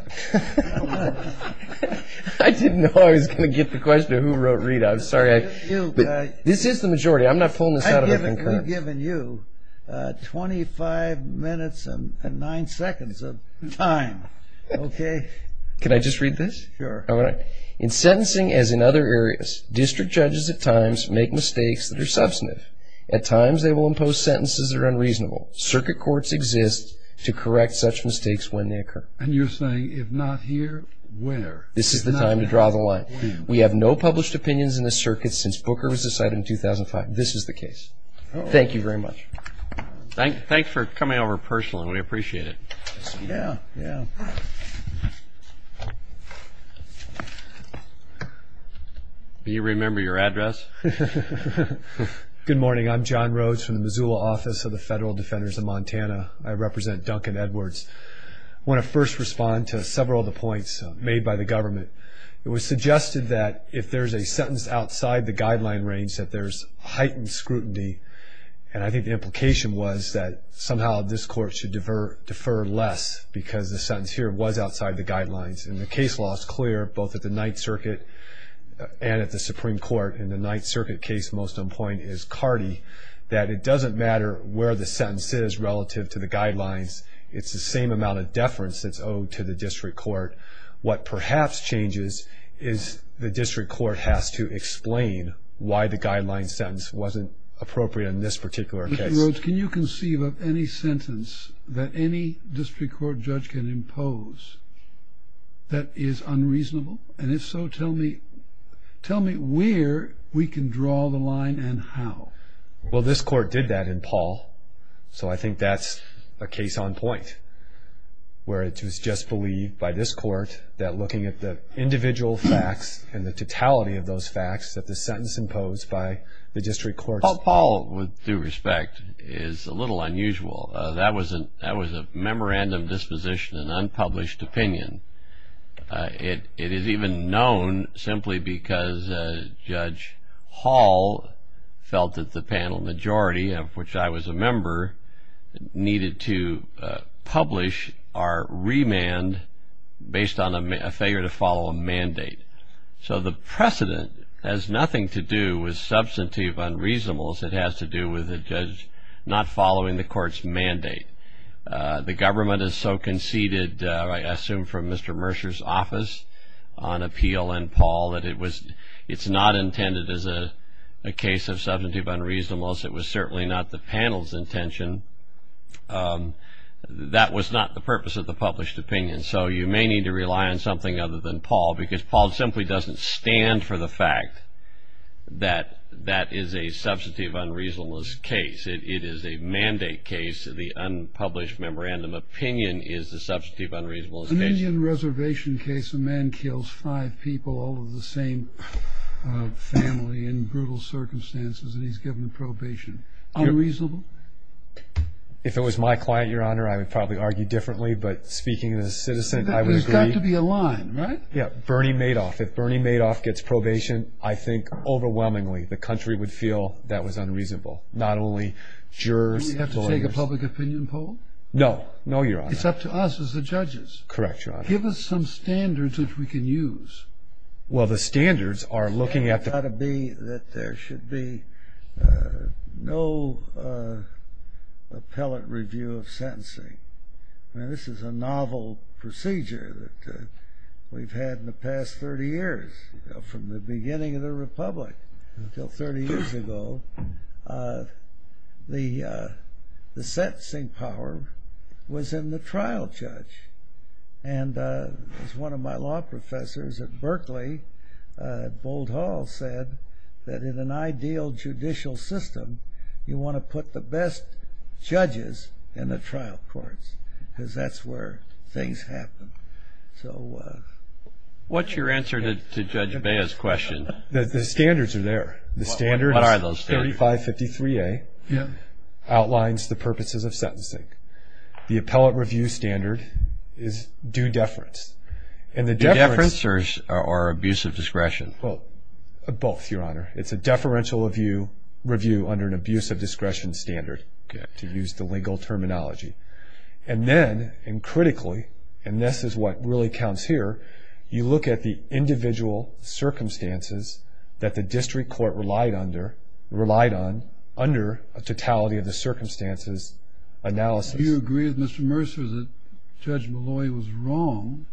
I didn't know I was going to get the question of who wrote it. I'm sorry. This is the majority. I've given you 25 minutes and nine seconds of time, okay? Can I just read this? Sure. In sentencing, as in other areas, district judges at times make mistakes that are substantive. At times they will impose sentences that are unreasonable. Circuit courts exist to correct such mistakes when they occur. And you're saying if not here, when? This is the time to draw the line. We have no published opinions in the circuit since Booker was decided in 2005. This is the case. Thank you very much. Thanks for coming over personally. We appreciate it. Yeah, yeah. Do you remember your address? Good morning. I'm John Rhodes from the Missoula Office of the Federal Defenders of Montana. I represent Duncan Edwards. I want to first respond to several of the points made by the government. It was suggested that if there's a sentence outside the guideline range, that there's heightened scrutiny. And I think the implication was that somehow this court should defer less because the sentence here was outside the guidelines. And the case law is clear, both at the Ninth Circuit and at the Supreme Court. And the Ninth Circuit case, most importantly, is CARDI, that it doesn't matter where the sentence is relative to the guidelines. It's the same amount of deference that's owed to the district court. But what perhaps changes is the district court has to explain why the guideline sentence wasn't appropriate in this particular case. Mr. Rhodes, can you conceive of any sentence that any district court judge can impose that is unreasonable? And if so, tell me where we can draw the line and how. Well, this court did that in Paul. So I think that's a case on point where it was just believed by this court that looking at the individual facts and the totality of those facts that the sentence imposed by the district court. Paul, with due respect, is a little unusual. That was a memorandum disposition, an unpublished opinion. It is even known simply because Judge Hall felt that the panel majority, of which I was a member, needed to publish our remand based on a failure to follow a mandate. So the precedent has nothing to do with substantive unreasonables. It has to do with a judge not following the court's mandate. The government has so conceded, I assume from Mr. Mercer's office on appeal in Paul, that it's not intended as a case of substantive unreasonables. It was certainly not the panel's intention. That was not the purpose of the published opinion. So you may need to rely on something other than Paul because Paul simply doesn't stand for the fact that that is a substantive unreasonables case. It is a mandate case. The unpublished memorandum opinion is the substantive unreasonables case. In the Indian Reservation case, a man kills five people, all of the same family, in brutal circumstances, and he's given probation. Unreasonable? If it was my client, Your Honor, I would probably argue differently. But speaking as a citizen, I would agree. There's got to be a line, right? Yeah. Bernie Madoff. If Bernie Madoff gets probation, I think overwhelmingly the country would feel that was unreasonable. Not only jurors. Do we have to take a public opinion poll? No. No, Your Honor. It's up to us as the judges. Correct, Your Honor. Give us some standards which we can use. Well, the standards are looking at the... It's got to be that there should be no appellate review of sentencing. Now, this is a novel procedure that we've had in the past 30 years, from the beginning of the Republic until 30 years ago. The sentencing power was in the trial judge. And as one of my law professors at Berkeley, Bold Hall, said that in an ideal judicial system, you want to put the best judges in the trial courts because that's where things happen. So... What's your answer to Judge Beha's question? The standards are there. What are those standards? The standard 3553A outlines the purposes of sentencing. The appellate review standard is due deference. Due deference or abuse of discretion? Both, Your Honor. It's a deferential review under an abuse of discretion standard, to use the legal terminology. And then, and critically, and this is what really counts here, you look at the individual circumstances that the district court relied on under a totality of the circumstances analysis. Do you agree with Mr. Mercer that Judge Malloy was wrong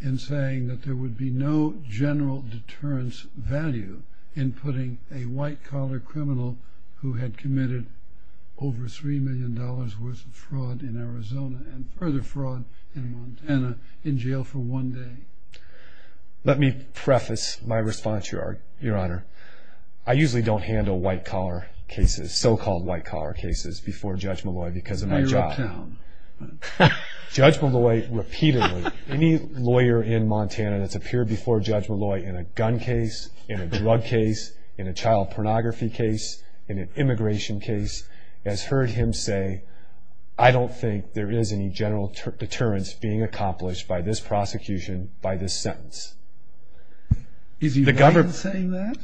in saying that there would be no general deterrence value in putting a white-collar criminal who had committed over $3 million worth of fraud in Arizona and further fraud in Montana in jail for one day? Let me preface my response, Your Honor. I usually don't handle white-collar cases, so-called white-collar cases, before Judge Malloy because of my job. You're a town. Judge Malloy repeatedly, any lawyer in Montana that's appeared before Judge Malloy in a gun case, in a drug case, in a child pornography case, in an immigration case, has heard him say, I don't think there is any general deterrence being accomplished by this prosecution, by this sentence. Is he right in saying that?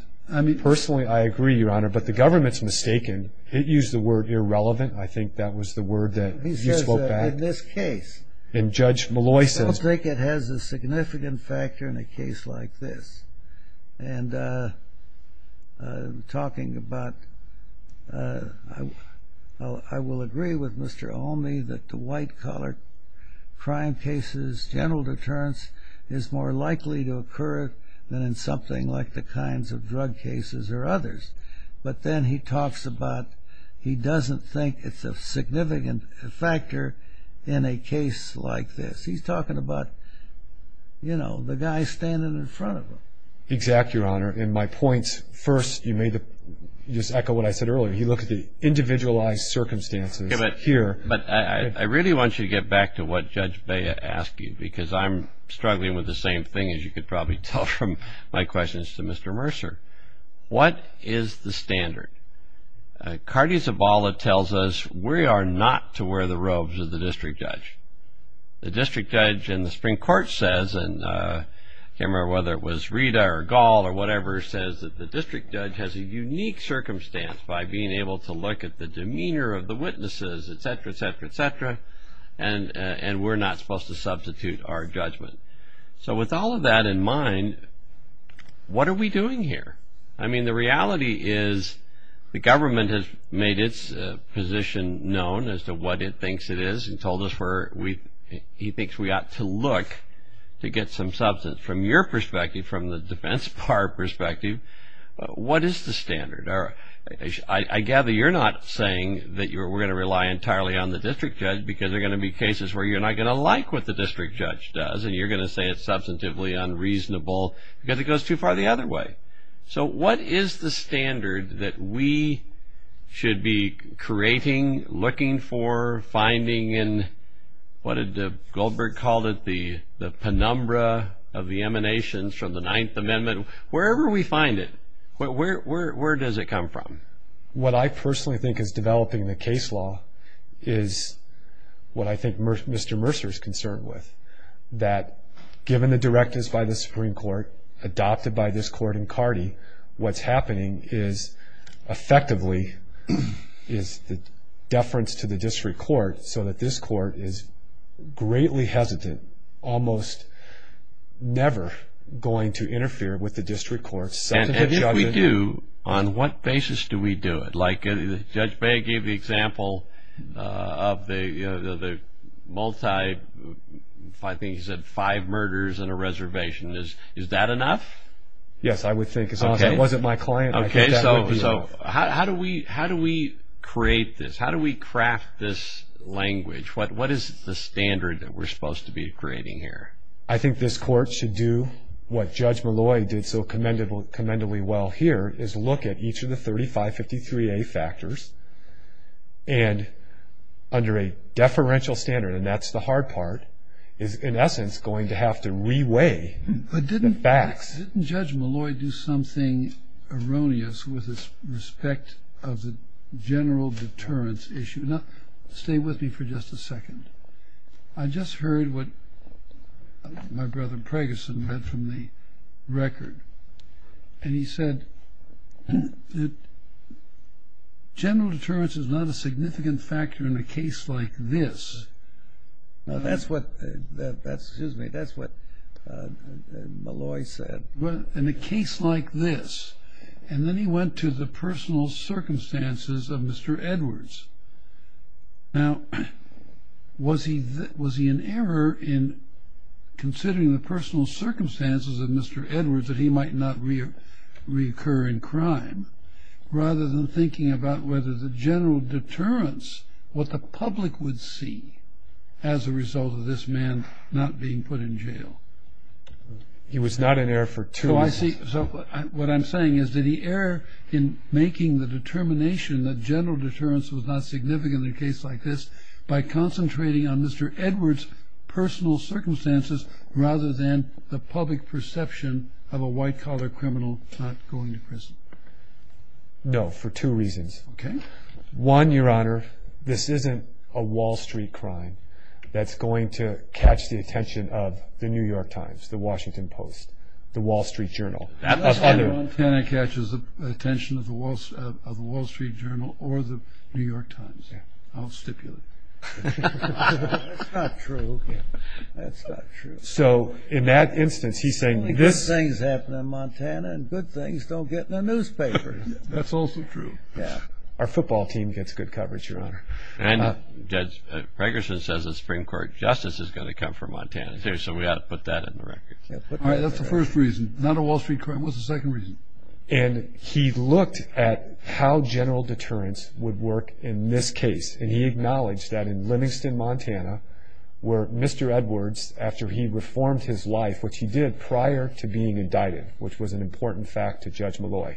Personally, I agree, Your Honor, but the government's mistaken. It used the word irrelevant. I think that was the word that he spoke at. He said that in this case. In Judge Malloy's sentence. I don't think it has a significant factor in a case like this. And talking about, I will agree with Mr. Olney that the white-collar crime cases, general deterrence is more likely to occur than in something like the kinds of drug cases or others. But then he talks about, he doesn't think it's a significant factor in a case like this. He's talking about, you know, the guy standing in front of him. Exactly, Your Honor. And my point first, you made the, you just echoed what I said earlier. You look at the individualized circumstances here. But I really want you to get back to what Judge Baya asked you, because I'm struggling with the same thing as you could probably tell from my questions to Mr. Mercer. What is the standard? Cardi Zabala tells us we are not to wear the robes of the district judge. The district judge in the Supreme Court says, and I can't remember whether it was Rita or Gall or whatever, says that the district judge has a unique circumstance by being able to look at the demeanor of the witnesses, et cetera, et cetera, et cetera, and we're not supposed to substitute our judgment. So with all of that in mind, what are we doing here? I mean, the reality is the government has made its position known as to what it thinks it is and told us where he thinks we ought to look to get some substance. From your perspective, from the defense bar perspective, what is the standard? I gather you're not saying that we're going to rely entirely on the district judge because there are going to be cases where you're not going to like what the district judge does and you're going to say it's substantively unreasonable because it goes too far the other way. So what is the standard that we should be creating, looking for, finding in, what did Goldberg call it, the penumbra of the emanations from the Ninth Amendment? Wherever we find it, where does it come from? What I personally think is developing in the case law is what I think Mr. Mercer is concerned with, that given the directives by the Supreme Court adopted by this court in Cardi, what's happening is effectively is the deference to the district court so that this court is greatly hesitant, almost never going to interfere with the district court. And if we do, on what basis do we do it? Like Judge Bay gave the example of the multi, I think he said five murders in a reservation. Is that enough? Yes, I would think so. That wasn't my client. Okay. So how do we create this? How do we craft this language? What is the standard that we're supposed to be creating here? I think this court should do what Judge Malloy did so commendably well here, is look at each of the 3553A factors and under a deferential standard, and that's the hard part, is in essence going to have to re-weigh the facts. Didn't Judge Malloy do something erroneous with respect of the general deterrence issue? Stay with me for just a second. I just heard what my brother Preggerson read from the record, and he said that general deterrence is not a significant factor in a case like this. That's what Malloy said. In a case like this. And then he went to the personal circumstances of Mr. Edwards. Now, was he in error in considering the personal circumstances of Mr. Edwards that he might not reoccur in crime, rather than thinking about whether the general deterrence, what the public would see as a result of this man not being put in jail? He was not in error for two reasons. So what I'm saying is, did he err in making the determination that general deterrence was not significant in a case like this by concentrating on Mr. Edwards' personal circumstances rather than the public perception of a white-collar criminal not going to prison? No, for two reasons. One, Your Honor, this isn't a Wall Street crime that's going to catch the attention of the New York Times, the Washington Post, the Wall Street Journal. Not that Montana catches the attention of the Wall Street Journal or the New York Times. I'll stipulate. That's not true. That's not true. So in that instance, he's saying good things happen in Montana and good things don't get in the newspaper. That's also true. Our football team gets good coverage, Your Honor. And Judge Fragerson says the Supreme Court justice is going to come from Montana too, so we ought to put that in the record. All right, that's the first reason. Not a Wall Street crime. What's the second reason? And he looked at how general deterrence would work in this case, and he acknowledged that in Livingston, Montana, where Mr. Edwards, after he reformed his life, which he did prior to being indicted, which was an important fact to Judge Malloy,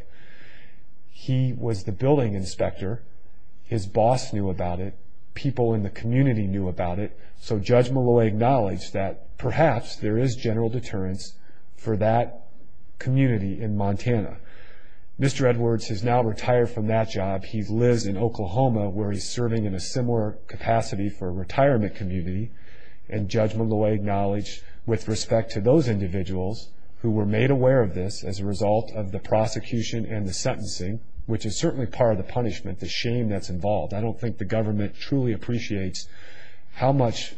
he was the building inspector. His boss knew about it. People in the community knew about it. So Judge Malloy acknowledged that perhaps there is general deterrence for that community in Montana. Mr. Edwards has now retired from that job. He lives in Oklahoma where he's serving in a similar capacity for a retirement community, and Judge Malloy acknowledged with respect to those individuals who were made aware of this as a result of the prosecution and the sentencing, which is certainly part of the punishment, the shame that's involved. I don't think the government truly appreciates how much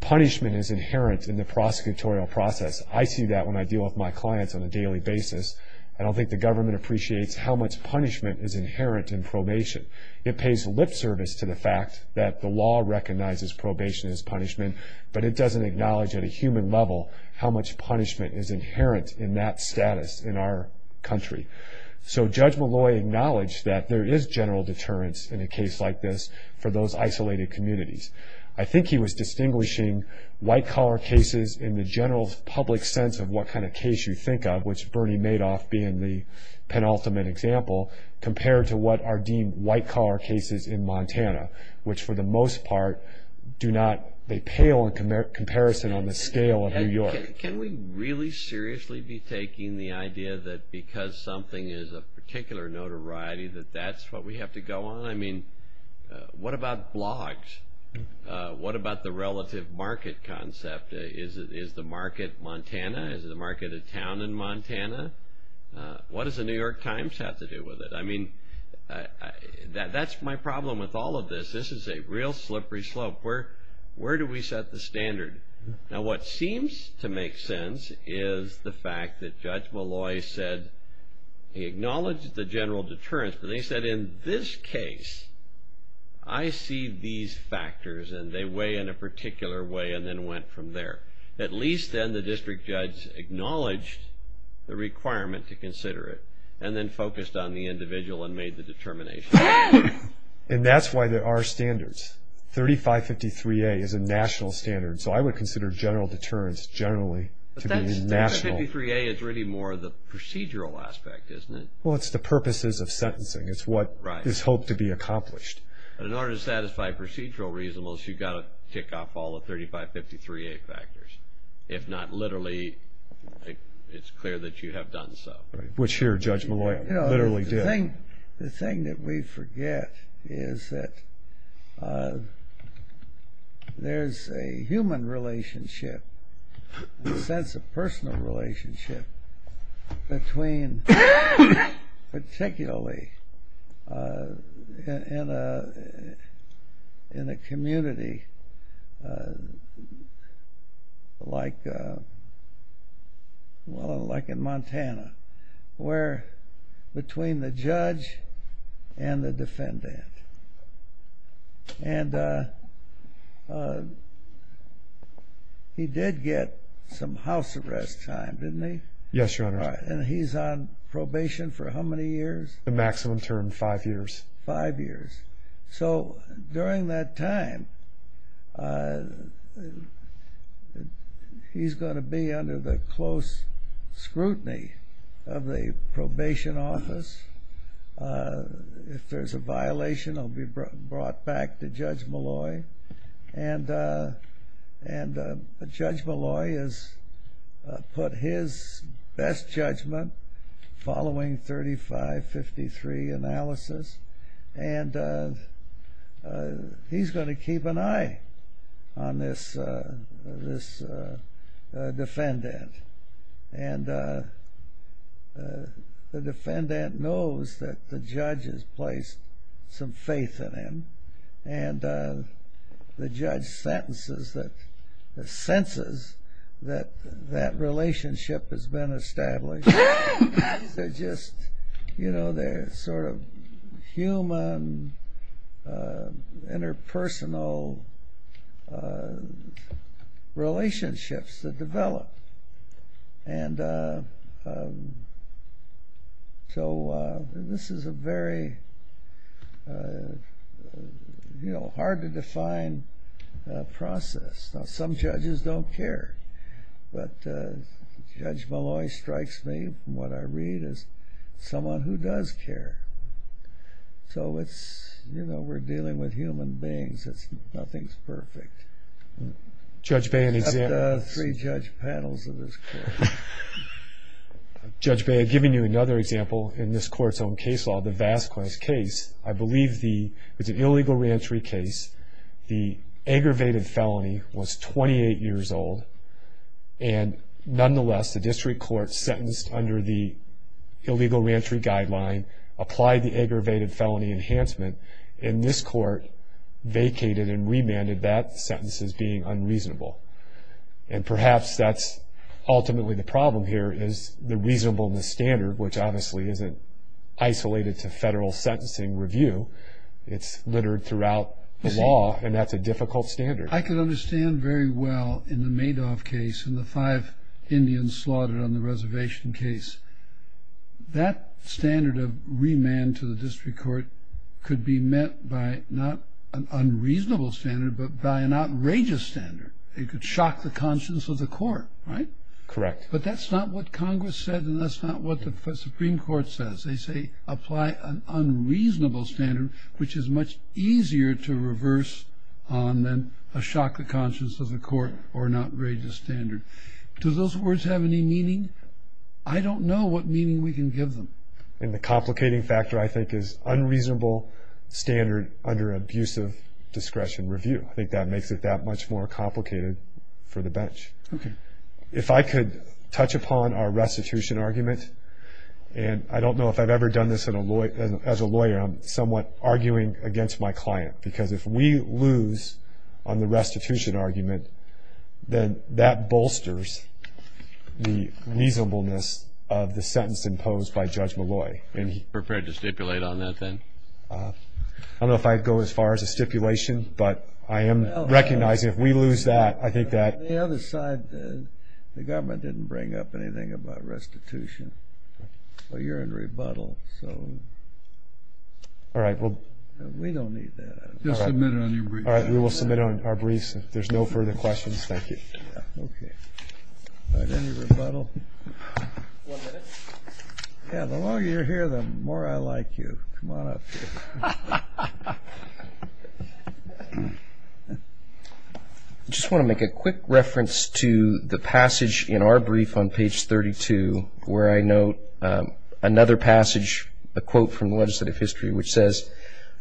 punishment is inherent in the prosecutorial process. I see that when I deal with my clients on a daily basis. I don't think the government appreciates how much punishment is inherent in probation. It pays lip service to the fact that the law recognizes probation as punishment, but it doesn't acknowledge at a human level how much punishment is inherent in that status in our country. So Judge Malloy acknowledged that there is general deterrence in a case like this for those isolated communities. I think he was distinguishing white-collar cases in the general public sense of what kind of case you think of, which Bernie Madoff being the penultimate example, compared to what are deemed white-collar cases in Montana, which for the most part do not pale in comparison on the scale of New York. Can we really seriously be taking the idea that because something is of particular notoriety that that's what we have to go on? I mean, what about blogs? What about the relative market concept? Is the market Montana? Is the market a town in Montana? What does the New York Times have to do with it? I mean, that's my problem with all of this. This is a real slippery slope. Where do we set the standard? Now, what seems to make sense is the fact that Judge Malloy said he acknowledged the general deterrence, but he said in this case I see these factors and they weigh in a particular way and then went from there. At least then the district judge acknowledged the requirement to consider it and then focused on the individual and made the determination. And that's why there are standards. 3553A is a national standard, so I would consider general deterrence generally to be national. But 3553A is really more the procedural aspect, isn't it? Well, it's the purposes of sentencing. It's what is hoped to be accomplished. But in order to satisfy procedural reasonableness, you've got to kick off all the 3553A factors. If not, literally, it's clear that you have done so. Which here, Judge Malloy literally did. I think the thing that we forget is that there's a human relationship, a sense of personal relationship between particularly in a community like in Montana where between the judge and the defendant. And he did get some house arrest time, didn't he? Yes, Your Honor. And he's on probation for how many years? The maximum term, five years. Five years. So during that time, he's going to be under the close scrutiny of the probation office. If there's a violation, it will be brought back to Judge Malloy. And Judge Malloy has put his best judgment following 3553 analysis. And he's going to keep an eye on this defendant. And the defendant knows that the judge has placed some faith in him. And the judge senses that that relationship has been established. They're just sort of human interpersonal relationships that develop. And so this is a very hard to define process. Some judges don't care. But Judge Malloy strikes me, from what I read, as someone who does care. So it's, you know, we're dealing with human beings. Nothing's perfect. Except the three judge panels in this case. Judge Bay, I've given you another example in this court's own case law, the Vasquez case. I believe it's an illegal reentry case. The aggravated felony was 28 years old. And nonetheless, the district court sentenced under the illegal reentry guideline, applied the aggravated felony enhancement, and this court vacated and remanded that sentence as being unreasonable. And perhaps that's ultimately the problem here is the reasonableness standard, which obviously isn't isolated to federal sentencing review. It's littered throughout the law, and that's a difficult standard. I can understand very well, in the Madoff case, in the five Indians slaughtered on the reservation case, that standard of remand to the district court could be met by not an unreasonable standard, but by an outrageous standard. It could shock the conscience of the court, right? Correct. But that's not what Congress said, and that's not what the Supreme Court says. They say apply an unreasonable standard, which is much easier to reverse than a shock to the conscience of the court or an outrageous standard. Do those words have any meaning? I don't know what meaning we can give them. And the complicating factor, I think, is unreasonable standard under abusive discretion review. I think that makes it that much more complicated for the bench. If I could touch upon our restitution argument, and I don't know if I've ever done this as a lawyer, and I'm somewhat arguing against my client, because if we lose on the restitution argument, then that bolsters the reasonableness of the sentence imposed by Judge Malloy. Are you prepared to stipulate on that, then? I don't know if I'd go as far as a stipulation, but I am recognizing if we lose that, I think that On the other side, the government didn't bring up anything about restitution, so you're in rebuttal, so we don't need that. Just submit it on your briefs. All right, we will submit it on our briefs. If there's no further questions, thank you. All right, any rebuttal? One minute. Yeah, the longer you're here, the more I like you. Come on up here. All right. I just want to make a quick reference to the passage in our brief on page 32, where I note another passage, a quote from the legislative history, which says,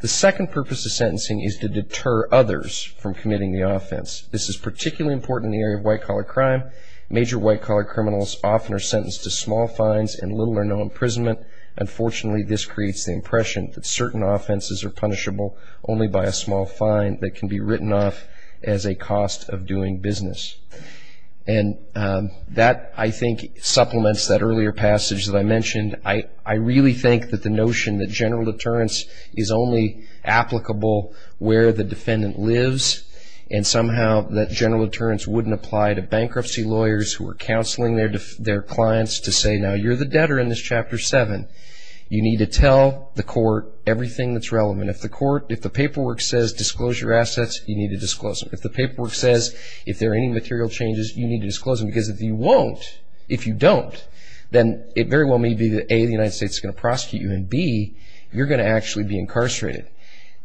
The second purpose of sentencing is to deter others from committing the offense. This is particularly important in the area of white-collar crime. Major white-collar criminals often are sentenced to small fines and little or no imprisonment. Unfortunately, this creates the impression that certain offenses are punishable only by a small fine that can be written off as a cost of doing business. And that, I think, supplements that earlier passage that I mentioned. I really think that the notion that general deterrence is only applicable where the defendant lives and somehow that general deterrence wouldn't apply to bankruptcy lawyers who are counseling their clients to say, Now, you're the debtor in this Chapter 7. You need to tell the court everything that's relevant. If the paperwork says, Disclose your assets, you need to disclose them. If the paperwork says, If there are any material changes, you need to disclose them. Because if you won't, if you don't, then it very well may be that, A, the United States is going to prosecute you, and, B, you're going to actually be incarcerated.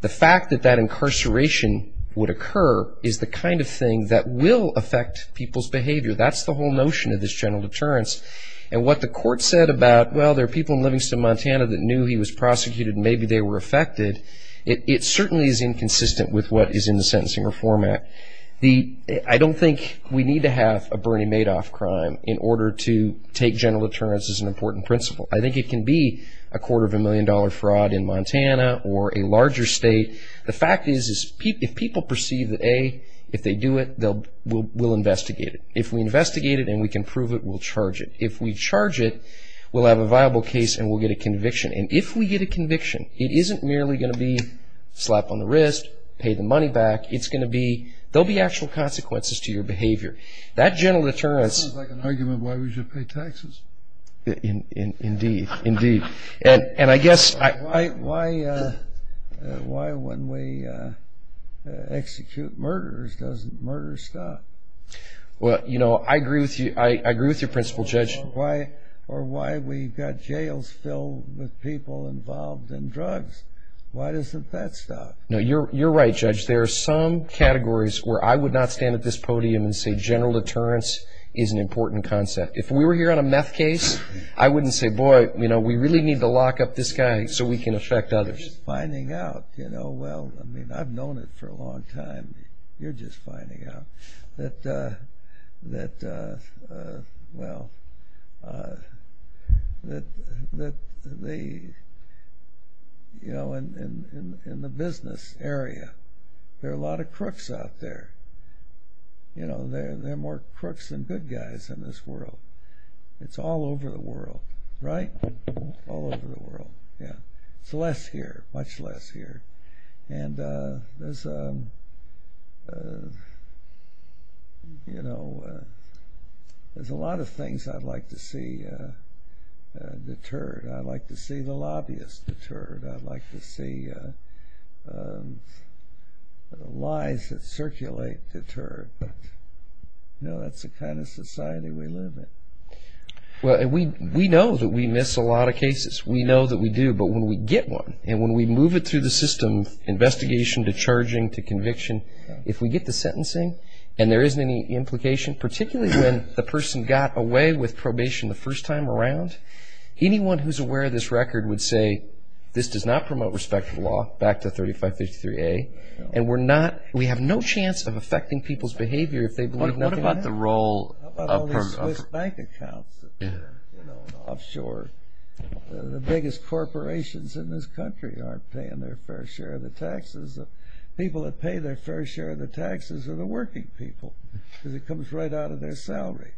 The fact that that incarceration would occur is the kind of thing that will affect people's behavior. That's the whole notion of this general deterrence. And what the court said about, Well, there are people in Livingston, Montana, that knew he was prosecuted and maybe they were affected, it certainly is inconsistent with what is in the Sentencing Reform Act. I don't think we need to have a Bernie Madoff crime in order to take general deterrence as an important principle. I think it can be a quarter of a million dollar fraud in Montana or a larger state. The fact is, if people perceive that, A, if they do it, we'll investigate it. If we investigate it and we can prove it, we'll charge it. If we charge it, we'll have a viable case and we'll get a conviction. And if we get a conviction, it isn't merely going to be slap on the wrist, pay the money back. It's going to be, there'll be actual consequences to your behavior. That general deterrence... Sounds like an argument why we should pay taxes. Indeed. Indeed. And I guess... Why when we execute murderers doesn't murderers stop? Well, you know, I agree with you, I agree with your principle, Judge. Or why we've got jails still with people involved in drugs. Why doesn't that stop? You're right, Judge. There are some categories where I would not stand at this podium and say general deterrence is an important concept. If we were here on a meth case, I wouldn't say, boy, you know, we really need to lock up this guy so we can affect others. You're just finding out, you know, well, I mean, I've known it for a long time. You're just finding out that, well, that the, you know, in the business area, there are a lot of crooks out there. You know, there are more crooks than good guys in this world. It's all over the world, right? All over the world, yeah. It's less here, much less here. And there's, you know, there's a lot of things I'd like to see deterred. I'd like to see the lobbyists deterred. I'd like to see lies that circulate deterred. You know, that's the kind of society we live in. Well, we know that we miss a lot of cases. We know that we do. But when we get one and when we move it through the system, investigation to charging to conviction, if we get to sentencing and there isn't any implication, particularly when the person got away with probation the first time around, anyone who's aware of this record would say this does not promote respect of law, back to 3553A. And we're not, we have no chance of affecting people's behavior if they believe that they have. How about all these bank accounts that are, you know, offshore? The biggest corporations in this country aren't paying their fair share of the taxes. The people that pay their fair share of the taxes are the working people because it comes right out of their salary,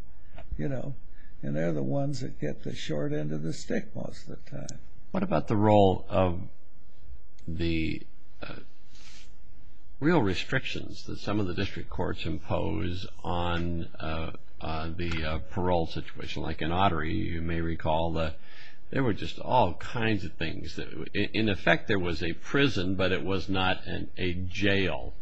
you know. And they're the ones that get the short end of the stick most of the time. What about the role of the real restrictions that some of the district courts impose on the parole situation? Like in Ottery, you may recall that there were just all kinds of things. In effect, there was a prison, but it was not a jail.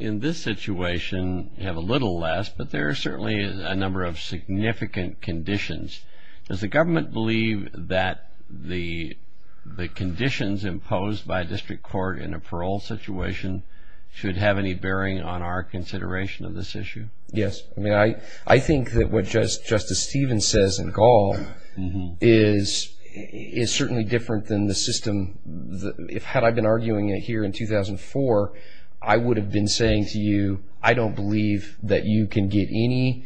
In this situation, you have a little less, but there are certainly a number of significant conditions. Does the government believe that the conditions imposed by a district court in a parole situation should have any bearing on our consideration of this issue? Yes. I mean, I think that what Justice Stevens says in Gall is certainly different than the system. Had I been arguing it here in 2004, I would have been saying to you, I don't believe that you can get any...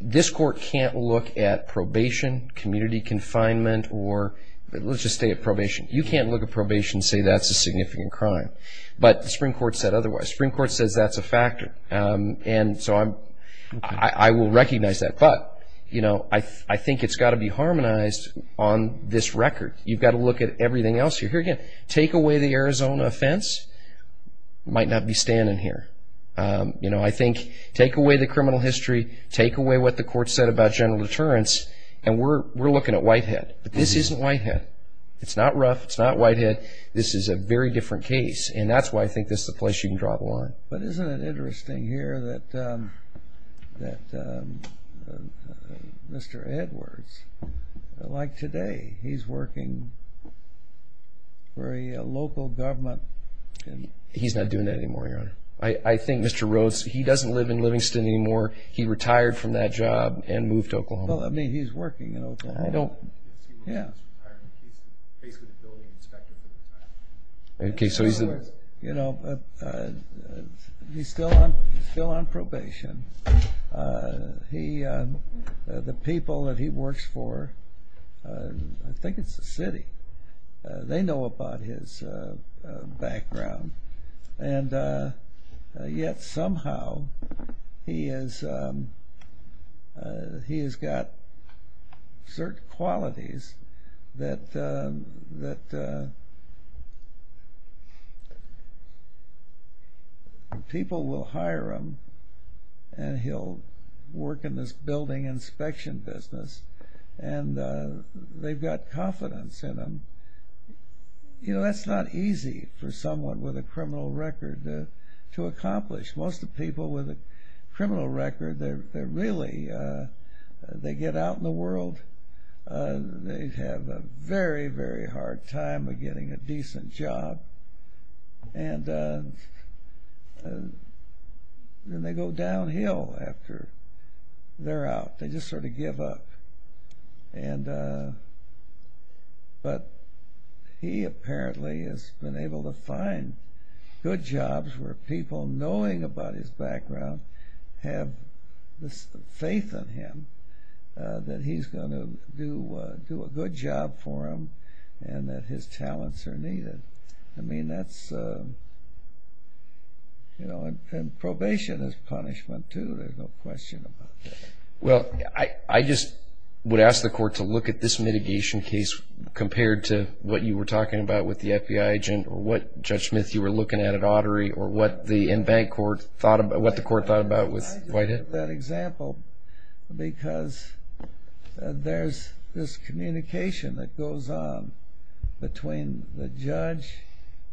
This court can't look at probation, community confinement, or let's just say a probation. You can't look at probation and say that's a significant crime. But the Supreme Court said otherwise. The Supreme Court said that's a factor. And so I will recognize that. But, you know, I think it's got to be harmonized on this record. You've got to look at everything else. If you're going to take away the Arizona offense, you might not be standing here. You know, I think take away the criminal history, take away what the court said about general deterrence, and we're looking at Whitehead. But this isn't Whitehead. It's not Ruff, it's not Whitehead. This is a very different case. And that's why I think this is the place you can draw the line. But isn't it interesting here that Mr. Edwards, like today, he's working for a local government... He's not doing that anymore, Your Honor. I think Mr. Rhodes, he doesn't live in Livingston anymore. He retired from that job and moved to Oklahoma. Well, I mean, he's working in Oklahoma. I don't... Yeah. Okay, so he's... You know, he's still on probation. The people that he works for, I think it's the city, they know about his background. And yet, somehow, he has got certain qualities that people will hire him, and he'll work in this building inspection business, and they've got confidence in him. You know, that's not easy for someone with a criminal record to accomplish. Most of the people with a criminal record, they're really... They get out in the world. They have a very, very hard time of getting a decent job. And then they go downhill after they're out. They just sort of give up. And... But he apparently has been able to find good jobs where people knowing about his background have faith in him, that he's going to do a good job for them, and that his talents are needed. I mean, that's... You know, and probation is punishment, too. There's no question about that. Well, I just would ask the court to look at this mitigation case compared to what you were talking about with the FBI agent, or what, Judge Smith, you were looking at at Autry, or what the in-bank court thought about... what the court thought about with Whitehead. That example, because there's this communication that goes on between the judge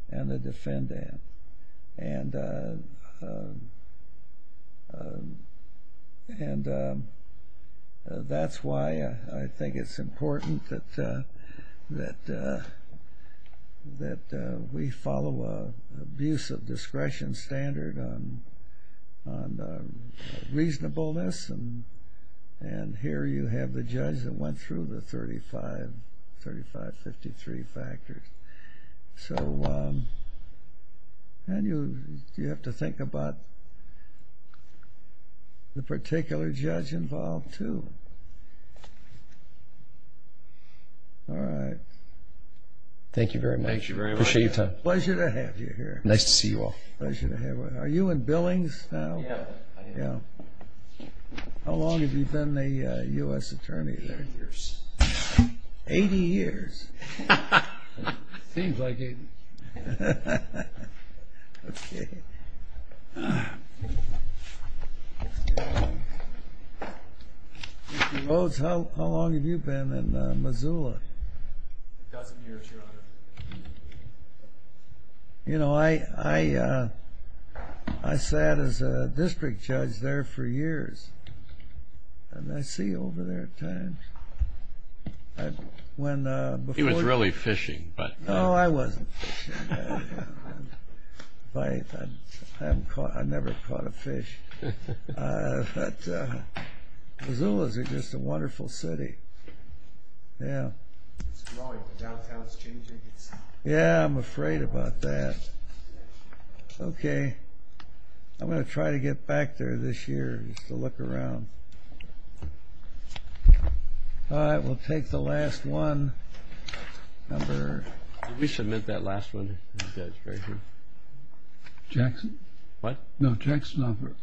and the defendant. And that's why I think it's important that we follow an abusive discretion standard on reasonableness. And here you have a judge that went through the 35-53 factors. So... And you have to think about the particular judge involved, too. All right. Thank you very much. Thank you very much. Appreciate your time. Pleasure to have you here. Nice to see you all. Pleasure to have you. Are you in Billings now? Yeah, I am. Yeah. How long have you been the U.S. Attorney there? 80 years. 80 years? Seems like it. Mr. Rhodes, how long have you been in Missoula? A couple years, Your Honor. You know, I sat as a district judge there for years. And I see you over there at times. He was really fishing, but... Oh, I wasn't fishing. I never caught a fish. But Missoula's just a wonderful city. Yeah. It's growing. The downtown's changing. Yeah, I'm afraid about that. Okay. I'm going to try to get back there this year just to look around. All right. We'll take the last one. Number... Did we submit that last one? Jackson? What? No, Jackson.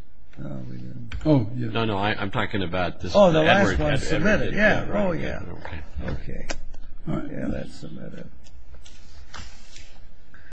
Oh, no, no. I'm talking about this. Oh, the last one. Submit it. Yeah. Oh, yeah. Okay. All right. Let's submit it.